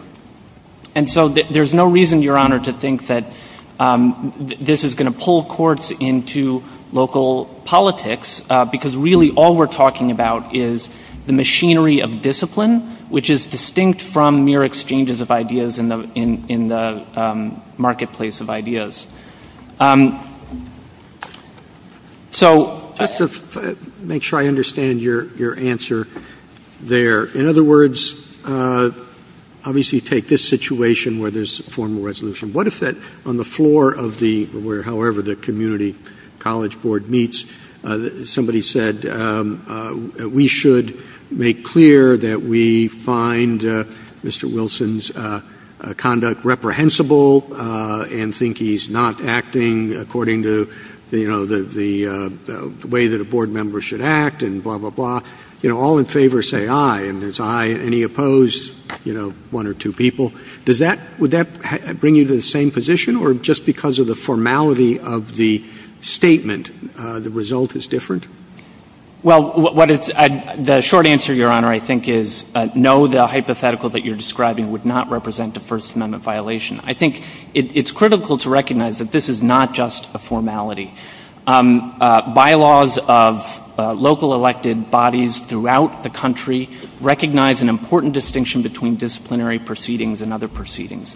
And so there's no reason, Your Honor, to think that this is going to pull courts into local politics, because really all we're talking about is the machinery of discipline, which is distinct from mere exchanges of ideas in the marketplace of ideas. So just to make sure I understand your answer there, in other words, obviously you take this situation where there's a formal resolution. What if that on the floor of the, however the community college board meets, somebody said we should make clear that we find Mr. Wilson's conduct reprehensible and think he's not acting according to the way that a board member should act and blah, blah, blah. All in favor say aye, and there's aye. Any opposed? One or two people. Would that bring you to the same position? Or just because of the formality of the statement, the result is different? Well, the short answer, Your Honor, I think is no, the hypothetical that you're describing would not represent a First Amendment violation. I think it's critical to recognize that this is not just a formality. Bylaws of local elected bodies throughout the country recognize an important distinction between disciplinary proceedings and other proceedings,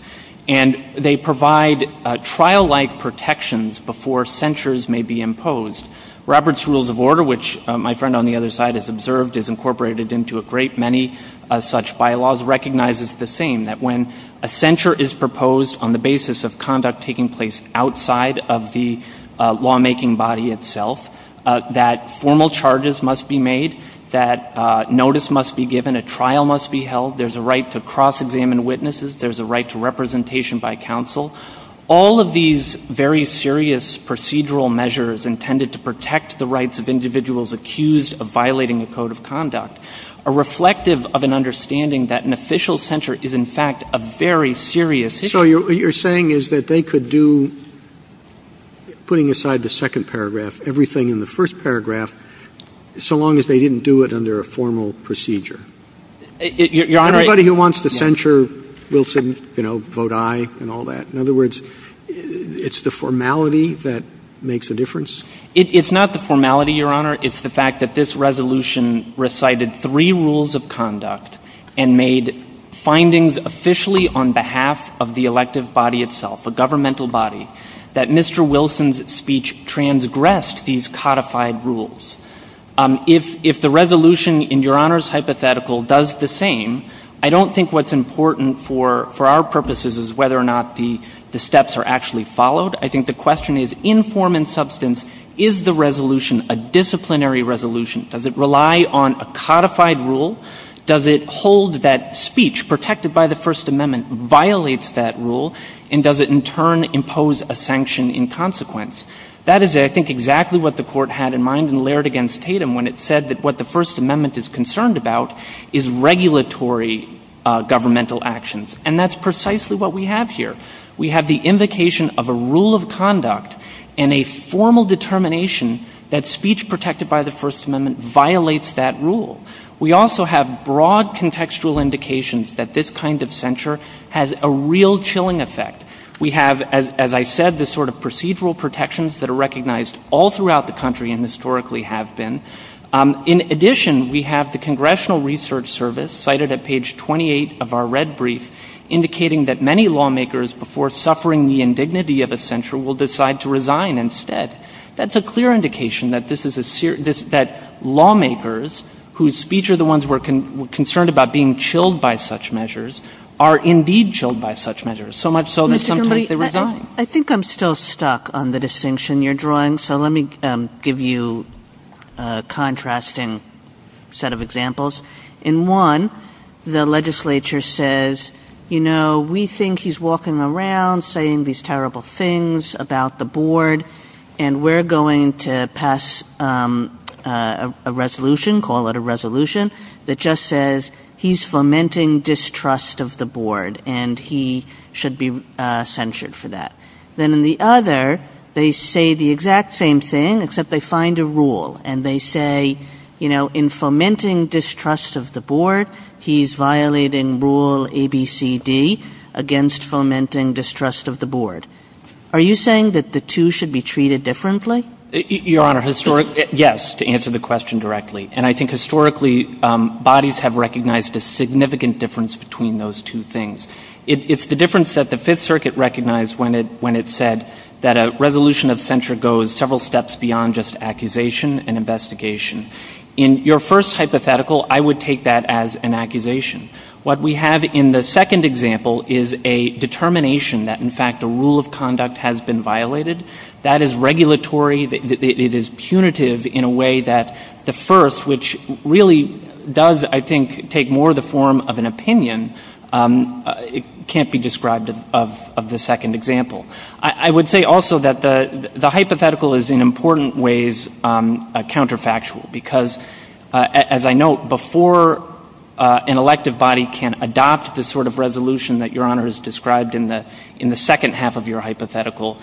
and they provide trial-like protections before censures may be imposed. Robert's Rules of Order, which my friend on the other side has observed, is incorporated into a great many such bylaws, recognizes the same, that when a censure is proposed on the basis of conduct taking place outside of the lawmaking body itself, that formal charges must be made, that notice must be given, a trial must be held, there's a right to cross-examine witnesses, there's a right to representation by counsel. All of these very serious procedural measures intended to protect the rights of individuals accused of violating a code of conduct are reflective of an understanding that an official censure is, in fact, a very serious issue. So what you're saying is that they could do, putting aside the second paragraph, everything in the first paragraph so long as they didn't do it under a formal procedure. Anybody who wants to censure will say, you know, vote aye and all that. In other words, it's the formality that makes a difference? It's not the formality, Your Honor. It's the fact that this resolution recited three rules of conduct and made findings officially on behalf of the elective body itself, the governmental body, that Mr. Wilson's speech transgressed these codified rules. If the resolution in Your Honor's hypothetical does the same, I don't think what's important for our purposes is whether or not the steps are actually followed. I think the question is, in form and substance, is the resolution a disciplinary resolution? Does it rely on a codified rule? Does it hold that speech protected by the First Amendment violates that rule, and does it in turn impose a sanction in consequence? That is, I think, exactly what the Court had in mind in Laird v. Tatum when it said that what the First Amendment is concerned about is regulatory governmental actions. And that's precisely what we have here. We have the invocation of a rule of conduct and a formal determination that speech protected by the First Amendment violates that rule. We also have broad contextual indications that this kind of censure has a real chilling effect. We have, as I said, the sort of procedural protections that are recognized all throughout the country and historically have been. In addition, we have the Congressional Research Service, cited at page 28 of our red brief, indicating that many lawmakers, before suffering the indignity of a censure, will decide to resign instead. That's a clear indication that lawmakers whose speech are the ones concerned about being chilled by such measures are indeed chilled by such measures, so much so that sometimes they resign. I think I'm still stuck on the distinction you're drawing, so let me give you a contrasting set of examples. In one, the legislature says, you know, we think he's walking around saying these terrible things about the board and we're going to pass a resolution, call it a resolution, that just says he's fomenting distrust of the board and he should be censured for that. Then in the other, they say the exact same thing except they find a rule and they say, you know, in fomenting distrust of the board, he's violating rule ABCD against fomenting distrust of the board. Are you saying that the two should be treated differently? Your Honor, yes, to answer the question directly, and I think historically bodies have recognized the significant difference between those two things. It's the difference that the Fifth Circuit recognized when it said that a resolution of censure goes several steps beyond just accusation and investigation. In your first hypothetical, I would take that as an accusation. What we have in the second example is a determination that, in fact, a rule of conduct has been violated. That is regulatory. It is punitive in a way that the first, which really does, I think, take more the form of an opinion, can't be described of the second example. I would say also that the hypothetical is in important ways a counterfactual because, as I note, before an elective body can adopt the sort of resolution that Your Honor has described in the second half of your hypothetical,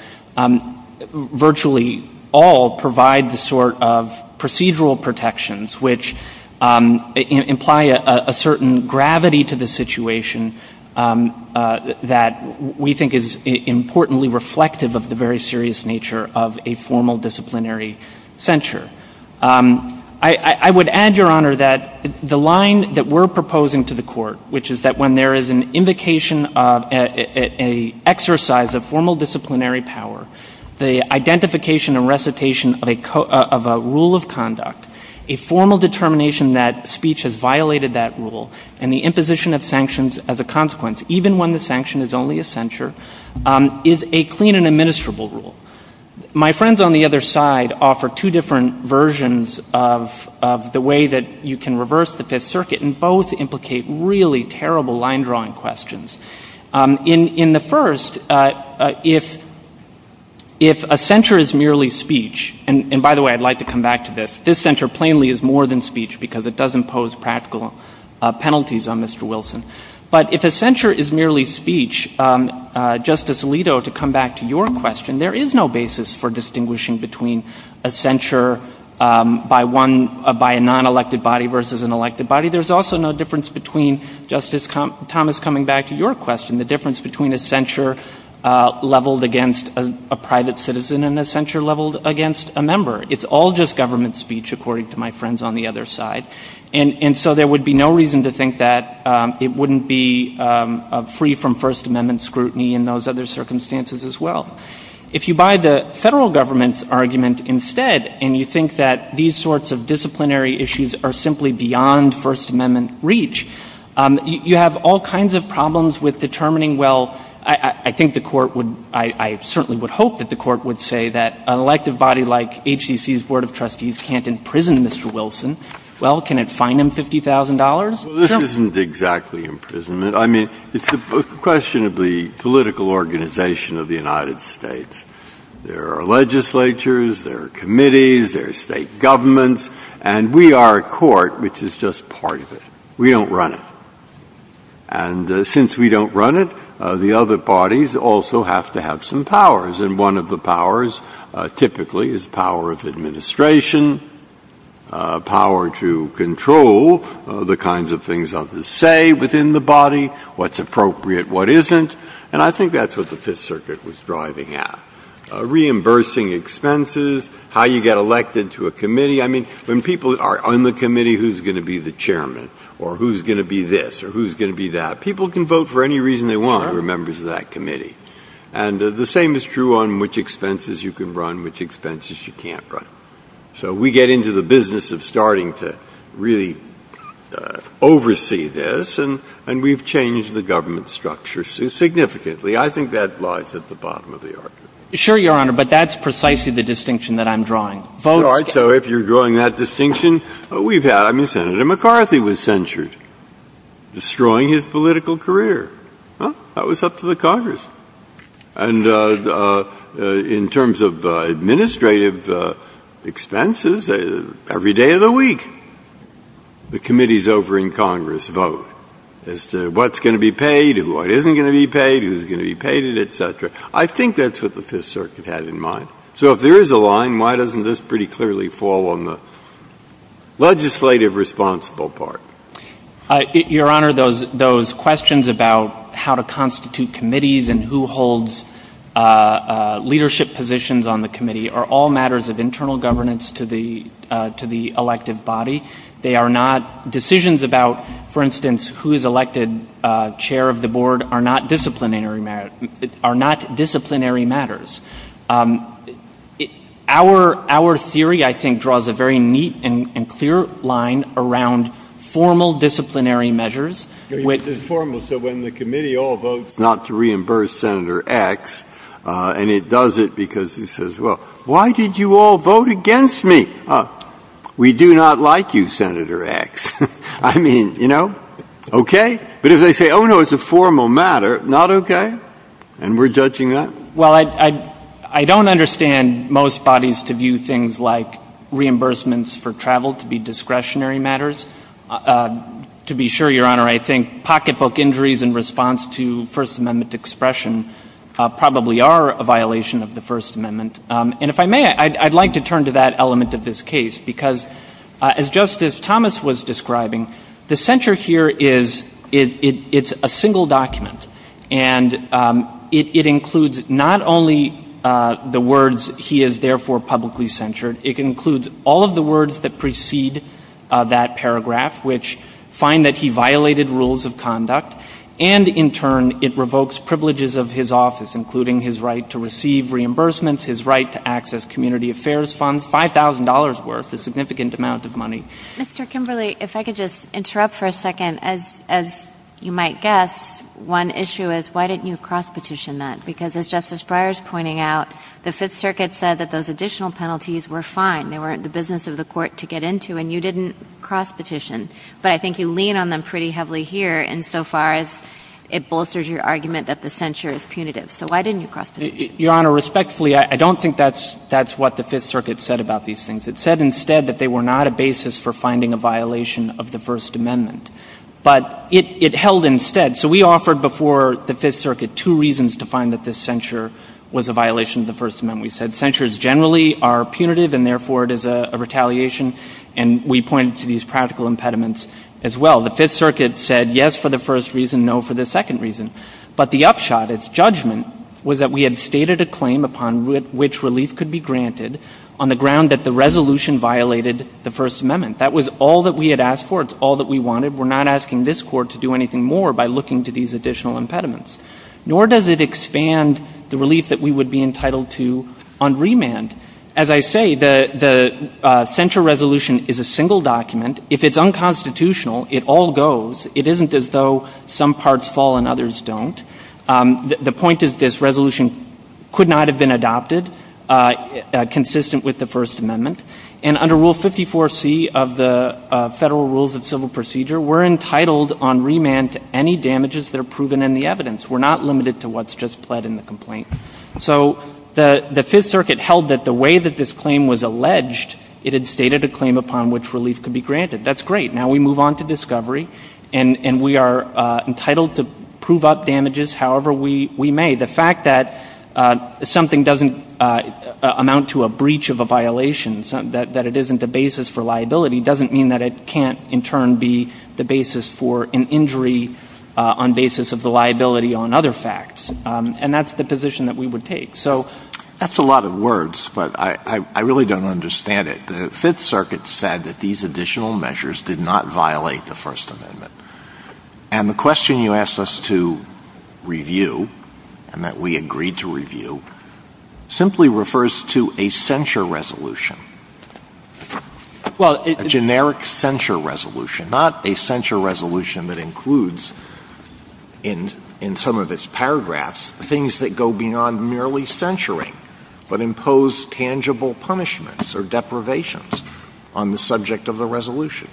virtually all provide the sort of procedural protections which imply a certain gravity to the situation that we think is importantly reflective of the very serious nature of a formal disciplinary censure. I would add, Your Honor, that the line that we're proposing to the Court, which is that when there is an indication of an exercise of formal disciplinary power, the identification and recitation of a rule of conduct, a formal determination that speech has violated that rule, and the imposition of sanctions as a consequence, even when the sanction is only a censure, is a clean and administrable rule. My friends on the other side offer two different versions of the way that you can reverse the Fifth Circuit and both implicate really terrible line-drawing questions. In the first, if a censure is merely speech, and by the way, I'd like to come back to this. This censure plainly is more than speech because it doesn't pose practical penalties on Mr. Wilson. But if a censure is merely speech, Justice Alito, to come back to your question, there is no basis for distinguishing between a censure by a non-elected body versus an elected body. There's also no difference between, Justice Thomas, coming back to your question, the difference between a censure leveled against a private citizen and a censure leveled against a member. It's all just government speech, according to my friends on the other side. And so there would be no reason to think that it wouldn't be free from First Amendment scrutiny and those other circumstances as well. If you buy the federal government's argument instead, and you think that these sorts of disciplinary issues are simply beyond First Amendment reach, you have all kinds of problems with determining, well, I think the court would, I certainly would hope that the court would say that an elected body like HCC's Board of Trustees can't imprison Mr. Wilson. Well, can it fine him $50,000? Well, this isn't exactly imprisonment. I mean, it's a question of the political organization of the United States. There are legislatures, there are committees, there are state governments, and we are a court, which is just part of it. We don't run it. And since we don't run it, the other bodies also have to have some powers, and one of the powers typically is power of administration, power to control the kinds of things others say within the body, what's appropriate, what isn't, and I think that's what the Fifth Circuit was driving at, reimbursing expenses, how you get elected to a committee. I mean, when people are on the committee who's going to be the chairman or who's going to be this or who's going to be that, people can vote for any reason they want who are members of that committee. And the same is true on which expenses you can run, which expenses you can't run. So we get into the business of starting to really oversee this, and we've changed the government structure significantly. I think that lies at the bottom of the argument. Sure, Your Honor, but that's precisely the distinction that I'm drawing. So if you're drawing that distinction, we've had when Senator McCarthy was censured, destroying his political career. That was up to the Congress. And in terms of administrative expenses, every day of the week, the committees over in Congress vote as to what's going to be paid and what isn't going to be paid, who's going to be paid, et cetera. I think that's what the Fifth Circuit had in mind. So if there is a line, why doesn't this pretty clearly fall on the legislative responsible part? Your Honor, those questions about how to constitute committees and who holds leadership positions on the committee are all matters of internal governance to the elected body. They are not decisions about, for instance, who is elected chair of the board are not disciplinary matters. Our theory, I think, draws a very neat and clear line around formal disciplinary measures. It's just formal. So when the committee all votes not to reimburse Senator X, and it does it because he says, well, why did you all vote against me? We do not like you, Senator X. I mean, you know, okay. But if they say, oh, no, it's a formal matter, not okay. And we're judging that? Well, I don't understand most bodies to view things like reimbursements for travel to be discretionary matters. To be sure, Your Honor, I think pocketbook injuries in response to First Amendment expression probably are a violation of the First Amendment. And if I may, I'd like to turn to that element of this case, because just as Thomas was describing, the censure here is a single document. And it includes not only the words he is therefore publicly censured. It includes all of the words that precede that paragraph, which find that he violated rules of conduct. And in turn, it revokes privileges of his office, including his right to receive reimbursements, his right to access community affairs funds, $5,000 worth, a significant amount of money. Mr. Kimberly, if I could just interrupt for a second. As you might guess, one issue is why didn't you cross-petition that? Because as Justice Breyer is pointing out, the Fifth Circuit said that those additional penalties were fine. They weren't the business of the court to get into, and you didn't cross-petition. But I think you lean on them pretty heavily here insofar as it bolsters your argument that the censure is punitive. So why didn't you cross-petition? Your Honor, respectfully, I don't think that's what the Fifth Circuit said about these things. It said instead that they were not a basis for finding a violation of the First Amendment. But it held instead. So we offered before the Fifth Circuit two reasons to find that this censure was a violation of the First Amendment. We said censures generally are punitive, and therefore it is a retaliation. And we pointed to these practical impediments as well. The Fifth Circuit said yes for the first reason, no for the second reason. But the upshot, its judgment, was that we had stated a claim upon which relief could be granted on the ground that the resolution violated the First Amendment. That was all that we had asked for. It's all that we wanted. We're not asking this Court to do anything more by looking to these additional impediments. Nor does it expand the relief that we would be entitled to on remand. As I say, the censure resolution is a single document. If it's unconstitutional, it all goes. It isn't as though some parts fall and others don't. The point is this resolution could not have been adopted consistent with the First Amendment. And under Rule 54C of the Federal Rules of Civil Procedure, we're entitled on remand to any damages that are proven in the evidence. We're not limited to what's just pled in the complaint. So the Fifth Circuit held that the way that this claim was alleged, it had stated a claim upon which relief could be granted. That's great. Now we move on to discovery, and we are entitled to prove up damages however we may. The fact that something doesn't amount to a breach of a violation, that it isn't a basis for liability, doesn't mean that it can't in turn be the basis for an injury on basis of the liability on other facts. And that's the position that we would take. So that's a lot of words, but I really don't understand it. The Fifth Circuit said that these additional measures did not violate the First Amendment. And the question you asked us to review, and that we agreed to review, simply refers to a censure resolution. A generic censure resolution, not a censure resolution that includes in some of its paragraphs things that go beyond merely censuring, but impose tangible punishments or deprivations on the subject of the resolution.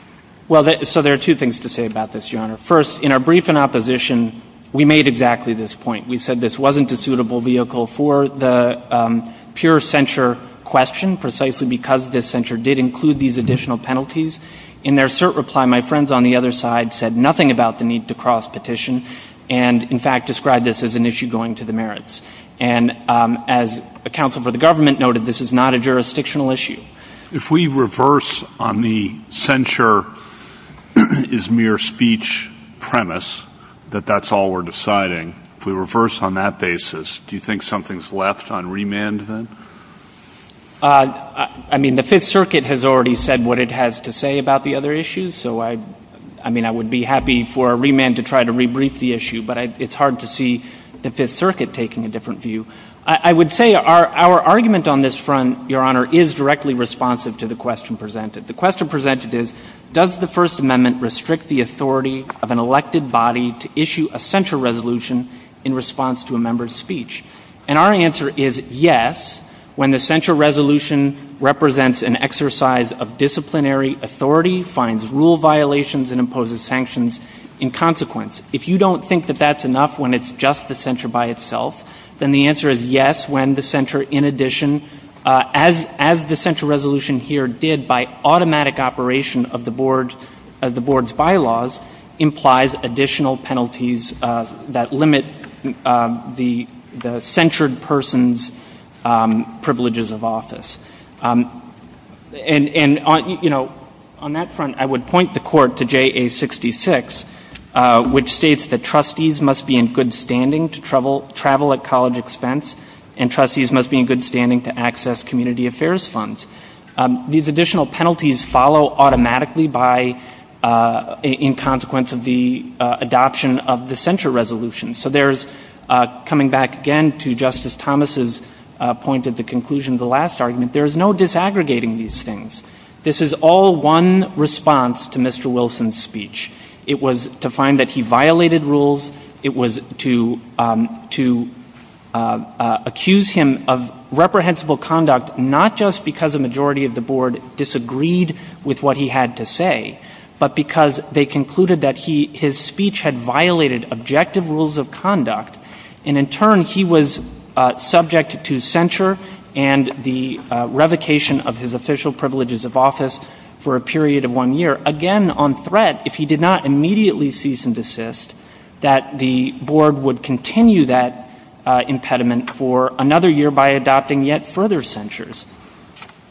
Well, so there are two things to say about this, Your Honor. First, in our brief in opposition, we made exactly this point. We said this wasn't a suitable vehicle for the pure censure question, precisely because this censure did include these additional penalties. In their cert reply, my friends on the other side said nothing about the need to cross petition, and in fact described this as an issue going to the merits. And as a counsel for the government noted, this is not a jurisdictional issue. If we reverse on the censure is mere speech premise, that that's all we're deciding, if we reverse on that basis, do you think something's left on remand then? I mean, the Fifth Circuit has already said what it has to say about the other issues, so I mean, I would be happy for a remand to try to rebrief the issue, but it's hard to see the Fifth Circuit taking a different view. I would say our argument on this front, Your Honor, is directly responsive to the question presented. The question presented is, does the First Amendment restrict the authority of an elected body to issue a censure resolution in response to a member's speech? And our answer is yes, when the censure resolution represents an exercise of disciplinary authority, finds rule violations, and imposes sanctions in consequence. If you don't think that that's enough when it's just the censure by itself, then the answer is yes, when the censure in addition, as the censure resolution here did, by automatic operation of the board's bylaws implies additional penalties that limit the censured person's privileges of office. And, you know, on that front, I would point the Court to JA-66, which states that trustees must be in good standing to travel at college expense, and trustees must be in good standing to access community affairs funds. These additional penalties follow automatically in consequence of the adoption of the censure resolution. So there's, coming back again to Justice Thomas's point at the conclusion of the last argument, there's no disaggregating these things. This is all one response to Mr. Wilson's speech. It was to find that he violated rules. It was to accuse him of reprehensible conduct, not just because a majority of the board disagreed with what he had to say, but because they concluded that his speech had violated objective rules of conduct, and in turn he was subject to censure and the revocation of his official privileges of office for a period of one year. Again, on threat, if he did not immediately cease and desist, that the board would continue that impediment for another year by adopting yet further censures.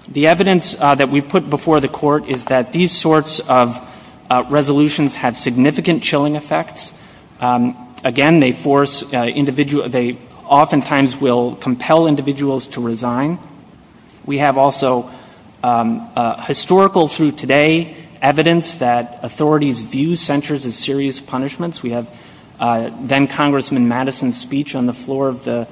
The evidence that we put before the court is that these sorts of resolutions have significant chilling effects. Again, they force individual, they oftentimes will compel individuals to resign. We have also historical through today evidence that authorities view censures as serious punishments. We have then-Congressman Madison's speech on the floor of the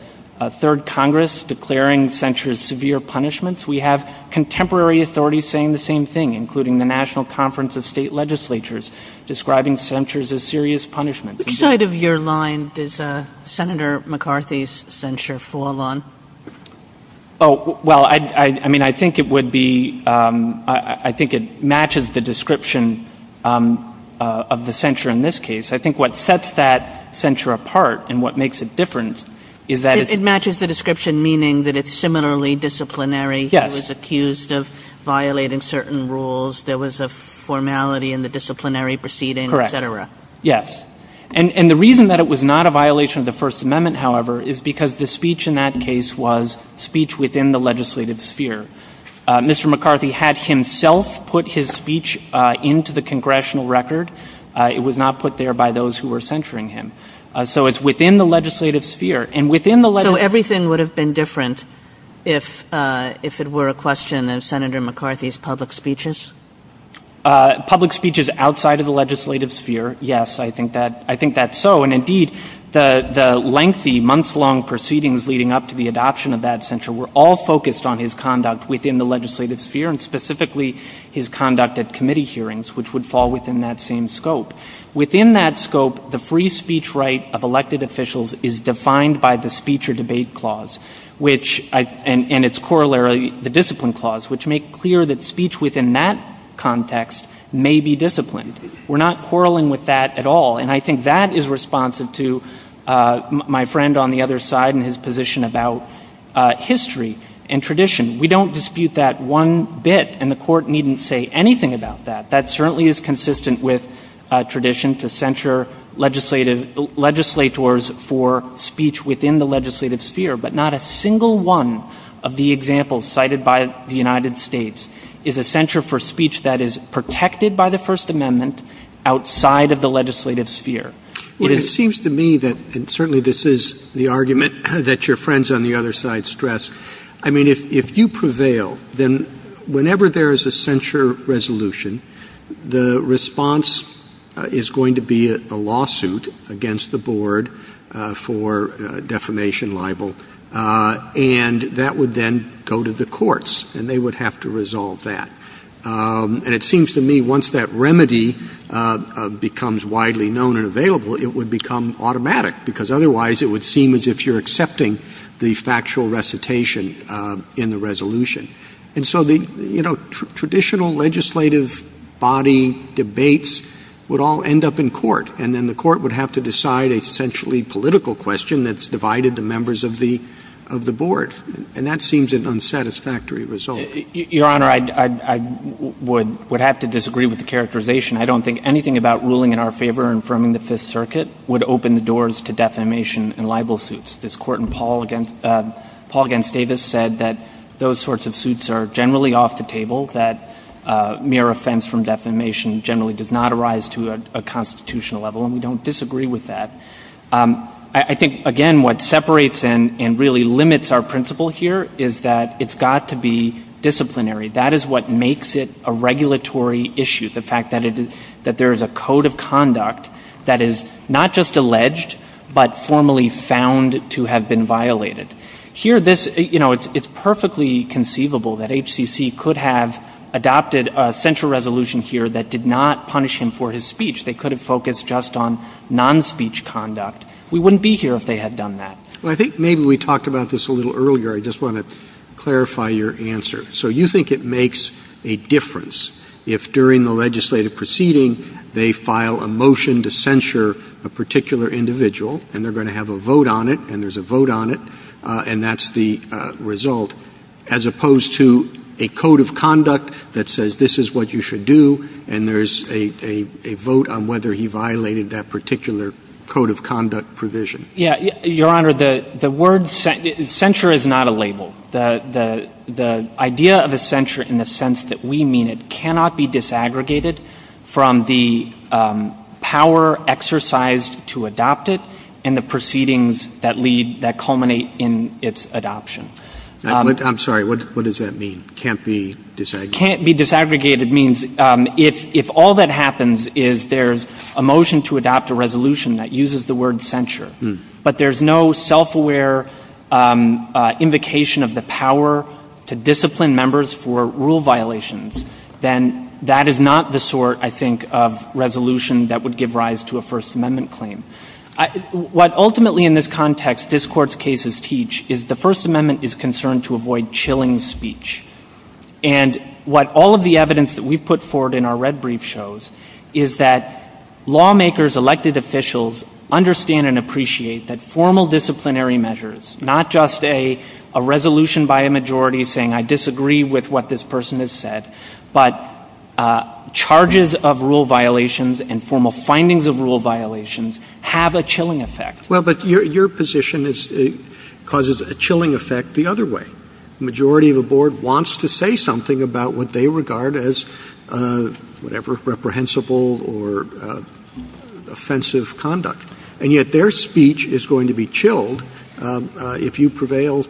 Third Congress declaring censures severe punishments. We have contemporary authorities saying the same thing, including the National Conference of State Legislatures describing censures as serious punishments. Which side of your line does Senator McCarthy's censure fall on? Oh, well, I mean, I think it would be, I think it matches the description of the censure in this case. I think what sets that censure apart and what makes it different is that- It matches the description meaning that it's similarly disciplinary. Yes. He was accused of violating certain rules. There was a formality in the disciplinary proceeding, et cetera. Correct. Yes. And the reason that it was not a violation of the First Amendment, however, is because the speech in that case was speech within the legislative sphere. Mr. McCarthy had himself put his speech into the congressional record. It was not put there by those who were censuring him. So it's within the legislative sphere. So everything would have been different if it were a question of Senator McCarthy's public speeches? Public speeches outside of the legislative sphere, yes. I think that's so. And, indeed, the lengthy, months-long proceedings leading up to the adoption of that censure were all focused on his conduct within the legislative sphere, and specifically his conduct at committee hearings, which would fall within that same scope. Within that scope, the free speech right of elected officials is defined by the speech or debate clause, and its corollary, the discipline clause, which make clear that speech within that context may be disciplined. We're not quarreling with that at all, and I think that is responsive to my friend on the other side and his position about history and tradition. We don't dispute that one bit, and the Court needn't say anything about that. That certainly is consistent with tradition to censure legislators for speech within the legislative sphere, but not a single one of the examples cited by the United States is a censure for speech that is protected by the First Amendment outside of the legislative sphere. Well, it seems to me that, and certainly this is the argument that your friends on the other side stressed, I mean, if you prevail, then whenever there is a censure resolution, the response is going to be a lawsuit against the Board for defamation, libel, and that would then go to the courts, and they would have to resolve that. And it seems to me once that remedy becomes widely known and available, it would become automatic, because otherwise it would seem as if you're accepting the factual recitation in the resolution. And so the traditional legislative body debates would all end up in court, and then the court would have to decide a centrally political question that's divided the members of the Board, and that seems an unsatisfactory result. Your Honor, I would have to disagree with the characterization. I don't think anything about ruling in our favor and affirming the Fifth Circuit would open the doors to defamation and libel suits. This Court in Paul v. Davis said that those sorts of suits are generally off the table, that mere offense from defamation generally does not arise to a constitutional level, and we don't disagree with that. I think, again, what separates and really limits our principle here is that it's got to be disciplinary. That is what makes it a regulatory issue, the fact that there is a code of conduct that is not just alleged, but formally found to have been violated. Here, you know, it's perfectly conceivable that HCC could have adopted a censure resolution here that did not punish him for his speech. They could have focused just on non-speech conduct. We wouldn't be here if they had done that. Well, I think maybe we talked about this a little earlier. I just want to clarify your answer. So you think it makes a difference if, during the legislative proceeding, they file a motion to censure a particular individual, and they're going to have a vote on it, and there's a vote on it, and that's the result, as opposed to a code of conduct that says this is what you should do, and there's a vote on whether he violated that particular code of conduct provision? Yeah, Your Honor, the word censure is not a label. The idea of a censure in the sense that we mean it cannot be disaggregated from the power exercised to adopt it and the proceedings that lead, that culminate in its adoption. I'm sorry, what does that mean, can't be disaggregated? Can't be disaggregated means if all that happens is there's a motion to adopt a resolution that uses the word censure, but there's no self-aware invocation of the power to discipline members for rule violations, then that is not the sort, I think, of resolution that would give rise to a First Amendment claim. What ultimately in this context this Court's cases teach is the First Amendment is concerned to avoid chilling speech. And what all of the evidence that we put forward in our red brief shows is that lawmakers, elected officials, understand and appreciate that formal disciplinary measures, not just a resolution by a majority saying I disagree with what this person has said, but charges of rule violations and formal findings of rule violations have a chilling effect. Well, but your position causes a chilling effect the other way. The majority of the Board wants to say something about what they regard as, whatever, reprehensible or offensive conduct. And yet their speech is going to be chilled if you prevail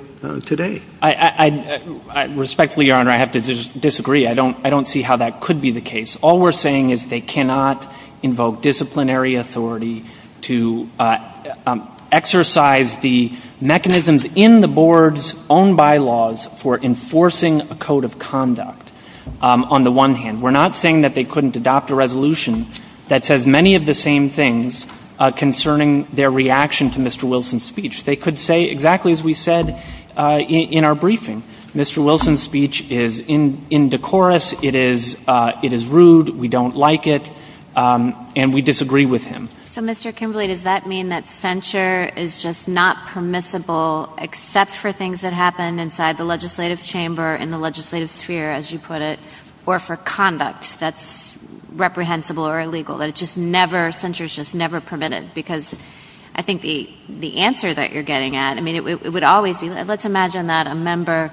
today. I respectfully, Your Honor, I have to disagree. I don't see how that could be the case. All we're saying is they cannot invoke disciplinary authority to exercise the mechanisms in the Board's own bylaws for enforcing a code of conduct on the one hand. We're not saying that they couldn't adopt a resolution that says many of the same things concerning their reaction to Mr. Wilson's speech. They could say exactly as we said in our briefing. Mr. Wilson's speech is in decorous, it is rude, we don't like it, and we disagree with him. So, Mr. Kimbley, does that mean that censure is just not permissible except for things that happen inside the legislative chamber, in the legislative sphere, as you put it, or for conduct that's reprehensible or illegal, that it's just never, censure is just never permitted? Because I think the answer that you're getting at, I mean, it would always be, let's imagine that a member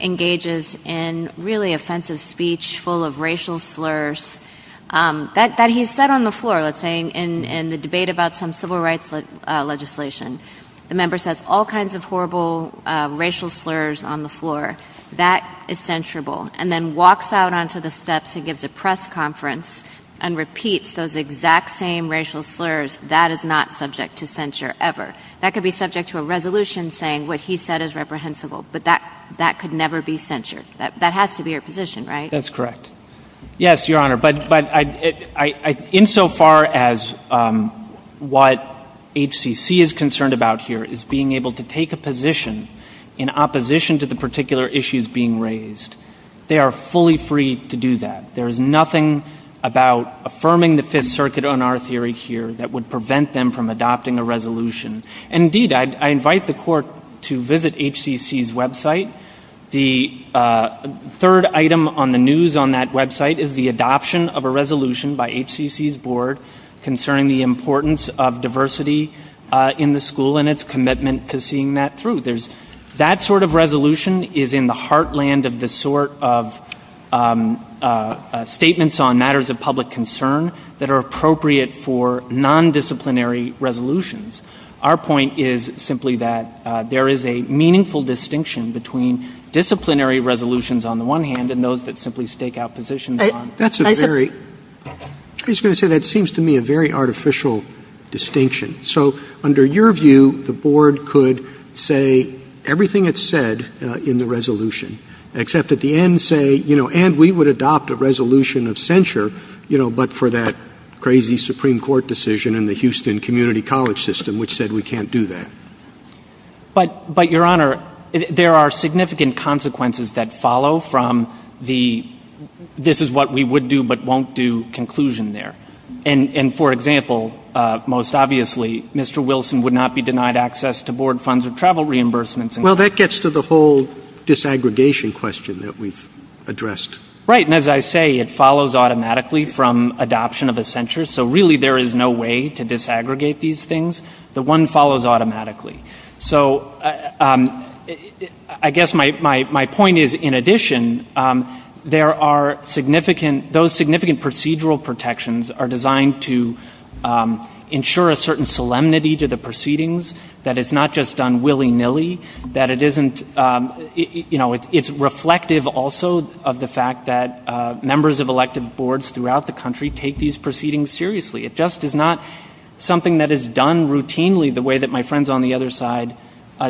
engages in really offensive speech full of racial slurs, that he's said on the floor, let's say, in the debate about some civil rights legislation. The member says all kinds of horrible racial slurs on the floor. That is censurable, and then walks out onto the steps and gives a press conference and repeats those exact same racial slurs. That is not subject to censure ever. That could be subject to a resolution saying what he said is reprehensible, but that could never be censured. That has to be your position, right? That's correct. Yes, Your Honor, but insofar as what HCC is concerned about here is being able to take a position in opposition to the particular issues being raised, they are fully free to do that. There is nothing about affirming the Fifth Circuit on our theory here that would prevent them from adopting a resolution. Indeed, I invite the Court to visit HCC's website. The third item on the news on that website is the adoption of a resolution by HCC's board concerning the importance of diversity in the school and its commitment to seeing that through. That sort of resolution is in the heartland of the sort of statements on matters of public concern that are appropriate for non-disciplinary resolutions. Our point is simply that there is a meaningful distinction between disciplinary resolutions, on the one hand, and those that simply stake out positions. I was just going to say that seems to me a very artificial distinction. So, under your view, the board could say everything it said in the resolution, except at the end say, you know, and we would adopt a resolution of censure, you know, but for that crazy Supreme Court decision in the Houston Community College system which said we can't do that. But, Your Honor, there are significant consequences that follow from the this is what we would do but won't do conclusion there. And, for example, most obviously, Mr. Wilson would not be denied access to board funds or travel reimbursements. Well, that gets to the whole disaggregation question that we've addressed. Right, and as I say, it follows automatically from adoption of a censure. So, really, there is no way to disaggregate these things. The one follows automatically. So, I guess my point is, in addition, there are significant those significant procedural protections are designed to ensure a certain solemnity to the proceedings that it's not just done willy-nilly, that it isn't, you know, it's reflective also of the fact that members of elected boards throughout the country take these proceedings seriously. It just is not something that is done routinely the way that my friends on the other side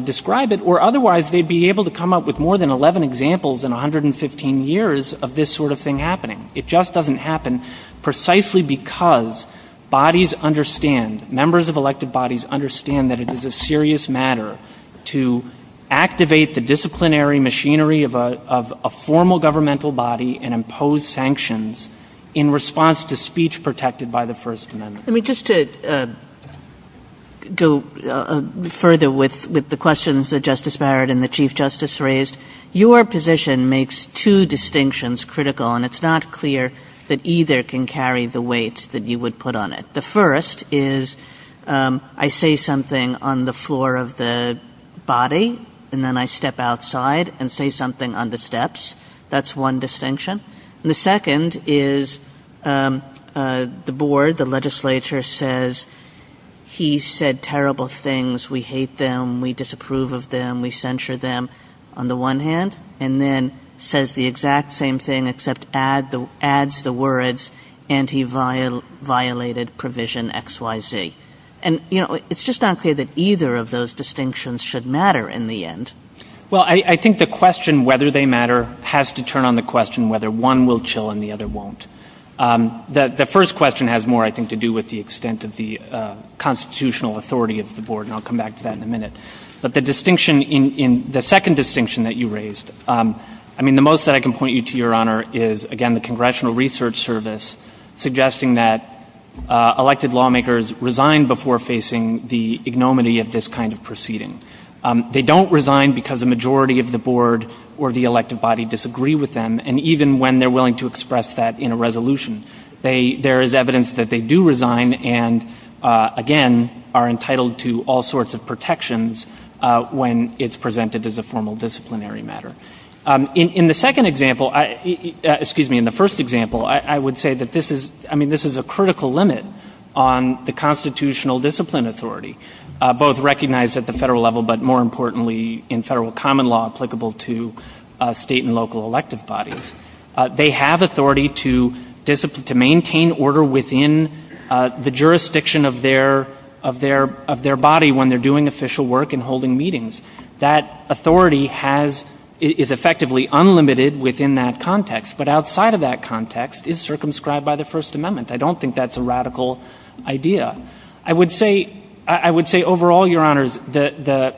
describe it or otherwise they'd be able to come up with more than 11 examples in 115 years of this sort of thing happening. It just doesn't happen precisely because bodies understand, members of elected bodies understand that it is a serious matter to activate the disciplinary machinery of a formal governmental body and impose sanctions in response to speech protected by the First Amendment. Let me just go further with the questions that Justice Barrett and the Chief Justice raised. Your position makes two distinctions critical, and it's not clear that either can carry the weight that you would put on it. The first is I say something on the floor of the body, and then I step outside and say something on the steps. That's one distinction. And the second is the board, the legislature, says he said terrible things, we hate them, we disapprove of them, we censure them on the one hand, and then says the exact same thing except adds the words anti-violated provision XYZ. It's just not clear that either of those distinctions should matter in the end. Well, I think the question whether they matter has to turn on the question whether one will chill and the other won't. The first question has more, I think, to do with the extent of the constitutional authority of the board, and I'll come back to that in a minute. But the second distinction that you raised, I mean the most that I can point you to, Your Honor, is again the Congressional Research Service suggesting that elected lawmakers resign before facing the ignominy of this kind of proceeding. They don't resign because the majority of the board or the elected body disagree with them, and even when they're willing to express that in a resolution, there is evidence that they do resign and, again, are entitled to all sorts of protections when it's presented as a formal disciplinary matter. In the second example, excuse me, in the first example, I would say that this is, I mean, this is a critical limit on the constitutional discipline authority, both recognized at the federal level, but more importantly in federal common law applicable to state and local elected bodies. They have authority to maintain order within the jurisdiction of their body when they're doing official work and holding meetings. That authority is effectively unlimited within that context, but outside of that context is circumscribed by the First Amendment. I don't think that's a radical idea. I would say overall, Your Honors, the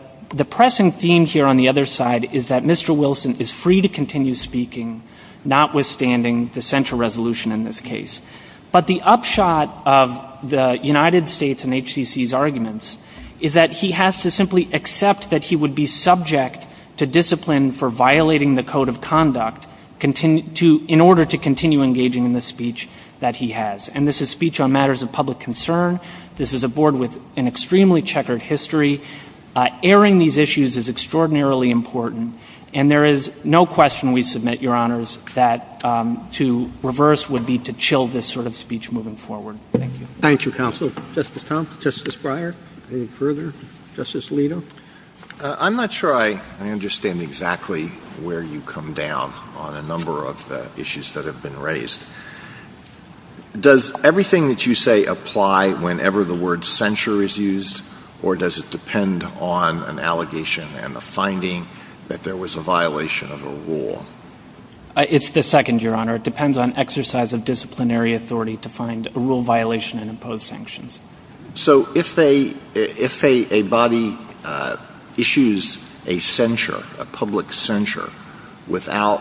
pressing theme here on the other side is that Mr. Wilson is free to continue speaking, notwithstanding the central resolution in this case. But the upshot of the United States and HCC's arguments is that he has to simply accept that he would be subject to discipline for violating the code of conduct in order to continue engaging in the speech that he has. And this is speech on matters of public concern. This is a board with an extremely checkered history. Airing these issues is extraordinarily important, and there is no question we submit, Your Honors, that to reverse would be to chill this sort of speech moving forward. Thank you. Thank you, Counsel. Justice Thompson, Justice Breyer, any further? Justice Alito? I'm not sure I understand exactly where you come down on a number of issues that have been raised. Does everything that you say apply whenever the word censure is used, or does it depend on an allegation and a finding that there was a violation of a rule? It's the second, Your Honor. It depends on exercise of disciplinary authority to find a rule violation and impose sanctions. So if a body issues a censure, a public censure, without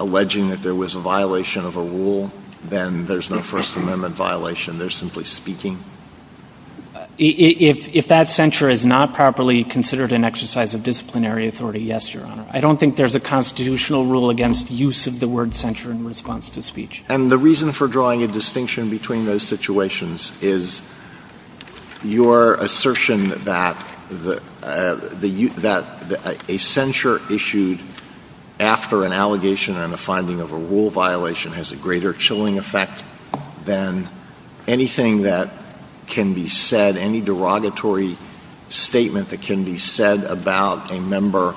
alleging that there was a violation of a rule, then there's no First Amendment violation? They're simply speaking? If that censure is not properly considered an exercise of disciplinary authority, yes, Your Honor. I don't think there's a constitutional rule against use of the word censure in response to speech. And the reason for drawing a distinction between those situations is your assertion that a censure issued after an allegation and a finding of a rule violation has a greater chilling effect than anything that can be said, any derogatory statement that can be said about a member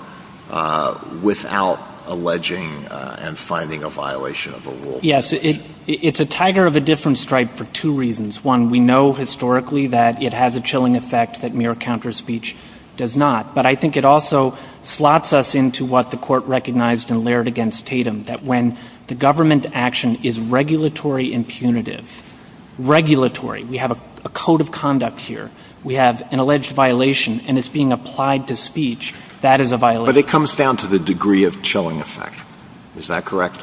without alleging and finding a violation of a rule. Yes, it's a tiger of a different stripe for two reasons. One, we know historically that it has a chilling effect that mere counterspeech does not. But I think it also slots us into what the Court recognized in Laird v. Tatum, We have a code of conduct here. We have an alleged violation, and it's being applied to speech. That is a violation. But it comes down to the degree of chilling effect. Is that correct?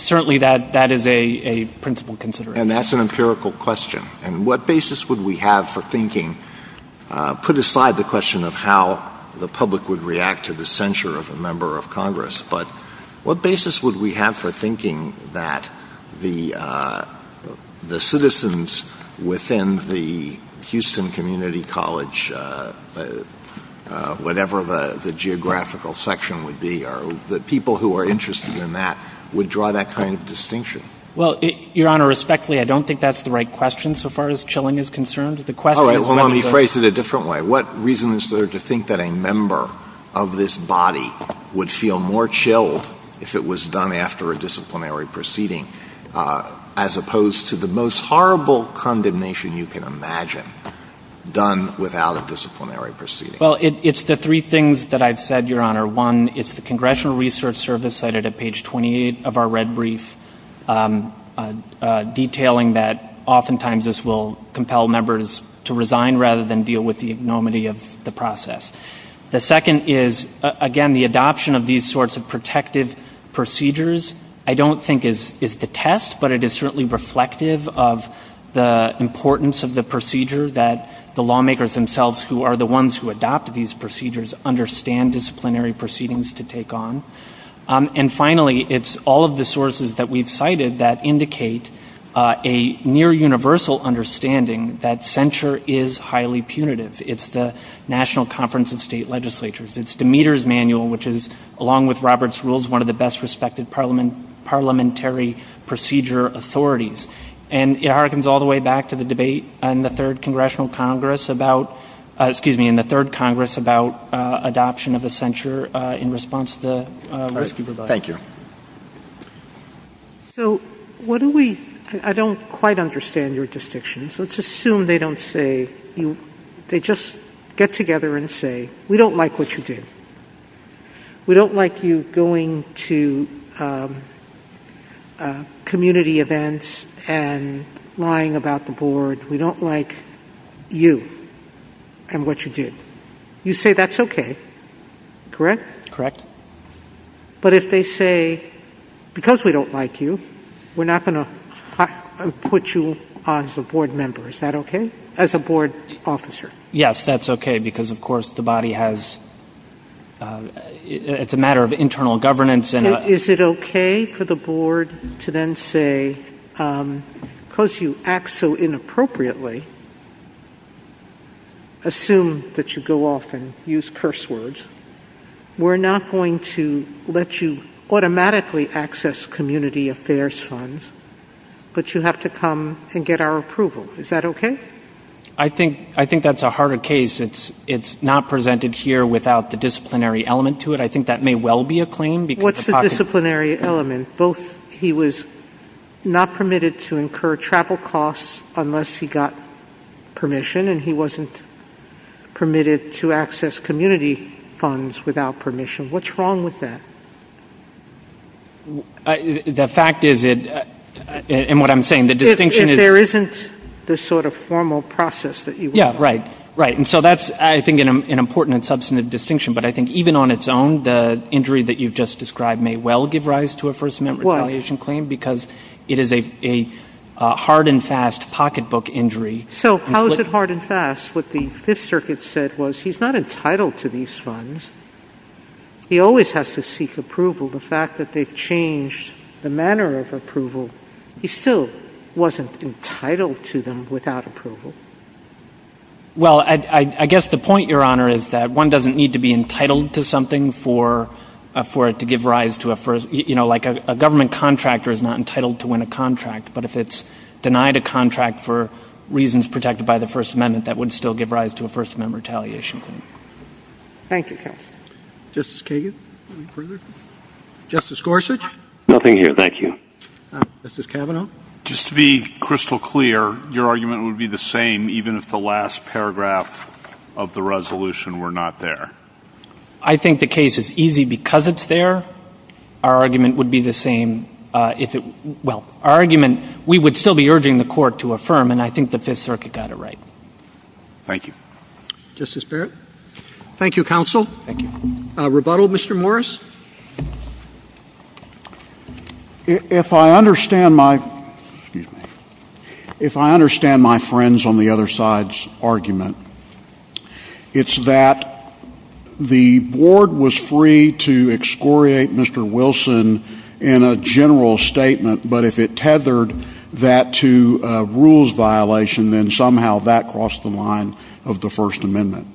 Certainly, that is a principle consideration. And that's an empirical question. And what basis would we have for thinking, put aside the question of how the public would react to the censure of a member of Congress, but what basis would we have for thinking that the citizens within the Houston Community College, whatever the geographical section would be, or the people who are interested in that would draw that kind of distinction? Well, Your Honor, respectfully, I don't think that's the right question so far as chilling is concerned. All right, well, let me phrase it a different way. What reason is there to think that a member of this body would feel more chilled if it was done after a disciplinary proceeding, as opposed to the most horrible condemnation you can imagine done without a disciplinary proceeding? Well, it's the three things that I've said, Your Honor. One, it's the Congressional Research Service cited at page 28 of our red brief, detailing that oftentimes this will compel members to resign rather than deal with the enormity of the process. The second is, again, the adoption of these sorts of protective procedures I don't think is to test, but it is certainly reflective of the importance of the procedure that the lawmakers themselves, who are the ones who adopt these procedures, understand disciplinary proceedings to take on. And finally, it's all of the sources that we've cited that indicate a near universal understanding that censure is highly punitive. It's the National Conference of State Legislatures. It's Demeter's Manual, which is, along with Robert's Rules, one of the best respected parliamentary procedure authorities. And it harkens all the way back to the debate in the Third Congress about adoption of a censure in response to the rescue providers. Thank you. So what do we – I don't quite understand your distinctions. Let's assume they don't say – they just get together and say, we don't like what you did. We don't like you going to community events and lying about the board. We don't like you and what you did. You say that's okay, correct? Correct. But if they say, because we don't like you, we're not going to put you on as a board member, is that okay? As a board officer. Yes, that's okay, because, of course, the body has – it's a matter of internal governance. Is it okay for the board to then say, because you act so inappropriately, assume that you go off and use curse words, we're not going to let you automatically access community affairs funds, but you have to come and get our approval. Is that okay? I think that's a harder case. It's not presented here without the disciplinary element to it. I think that may well be a claim. What's the disciplinary element? He was not permitted to incur travel costs unless he got permission, and he wasn't permitted to access community funds without permission. What's wrong with that? The fact is – and what I'm saying, the distinction is – there isn't this sort of formal process that you want. Yeah, right, right. And so that's, I think, an important and substantive distinction. But I think even on its own, the injury that you've just described may well give rise to a First Amendment retaliation claim because it is a hard and fast pocketbook injury. So how is it hard and fast? What the Fifth Circuit said was he's not entitled to these funds. He always has to seek approval. The fact that they've changed the manner of approval, he still wasn't entitled to them without approval. Well, I guess the point, Your Honor, is that one doesn't need to be entitled to something for it to give rise to a first – you know, like a government contractor is not entitled to win a contract, but if it's denied a contract for reasons protected by the First Amendment, that would still give rise to a First Amendment retaliation claim. Thank you, counsel. Justice Kagan, any further? Justice Gorsuch? Nothing here, thank you. Justice Kavanaugh? Just to be crystal clear, your argument would be the same even if the last paragraph of the resolution were not there? I think the case is easy because it's there. Our argument would be the same if it – well, our argument, we would still be urging the court to affirm, and I think the Fifth Circuit got it right. Thank you. Justice Barrett? Nothing here. Thank you, counsel. Thank you. Rebuttal, Mr. Morris? If I understand my – excuse me – if I understand my friend's on the other side's argument, it's that the board was free to excoriate Mr. Wilson in a general statement, but if it tethered that to a rules violation, then somehow that crossed the line of the First Amendment.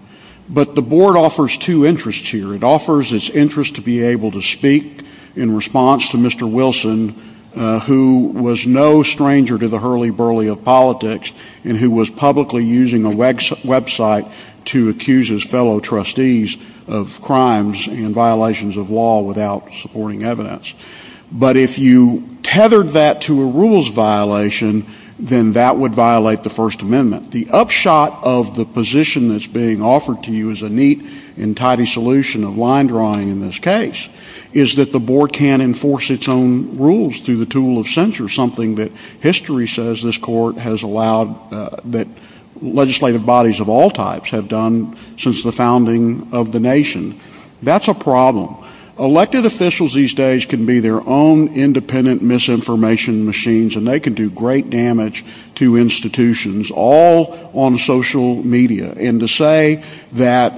But the board offers two interests here. It offers its interest to be able to speak in response to Mr. Wilson, who was no stranger to the hurly-burly of politics and who was publicly using a website to accuse his fellow trustees of crimes and violations of law without supporting evidence. But if you tethered that to a rules violation, then that would violate the First Amendment. The upshot of the position that's being offered to you as a neat and tidy solution of line drawing in this case is that the board can't enforce its own rules through the tool of censure, something that history says this court has allowed – that legislative bodies of all types have done since the founding of the nation. That's a problem. Elected officials these days can be their own independent misinformation machines, and they can do great damage to institutions all on social media. And to say that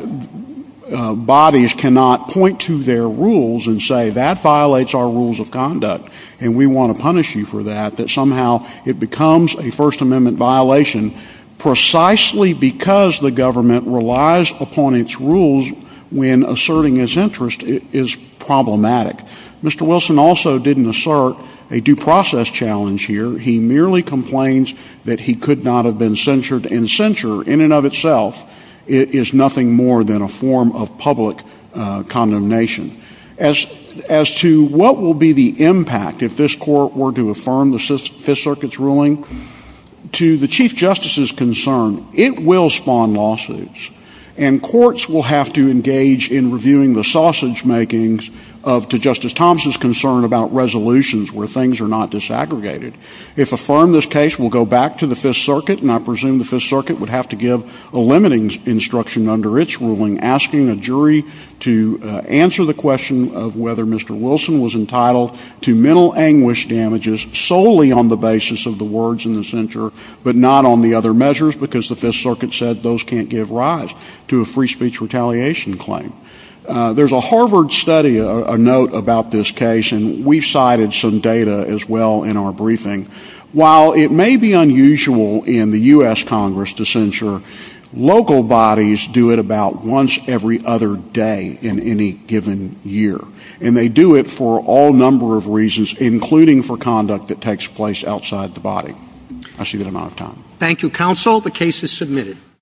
bodies cannot point to their rules and say, that violates our rules of conduct and we want to punish you for that, that somehow it becomes a First Amendment violation precisely because the government relies upon its rules when asserting its interest is problematic. Mr. Wilson also didn't assert a due process challenge here. He merely complains that he could not have been censured, and censure in and of itself is nothing more than a form of public condemnation. As to what will be the impact if this court were to affirm the Fifth Circuit's ruling, to the Chief Justice's concern, it will spawn lawsuits. And courts will have to engage in reviewing the sausage makings to Justice Thompson's concern about resolutions where things are not disaggregated. If affirmed, this case will go back to the Fifth Circuit, and I presume the Fifth Circuit would have to give a limiting instruction under its ruling, asking a jury to answer the question of whether Mr. Wilson was entitled to mental anguish damages solely on the basis of the words in the censure, but not on the other measures because the Fifth Circuit said those can't give rise to a free speech retaliation claim. There's a Harvard study, a note about this case, and we cited some data as well in our briefing. While it may be unusual in the U.S. Congress to censure, local bodies do it about once every other day in any given year. And they do it for all number of reasons, including for conduct that takes place outside the body. That's a good amount of time. Thank you, counsel. The case is submitted.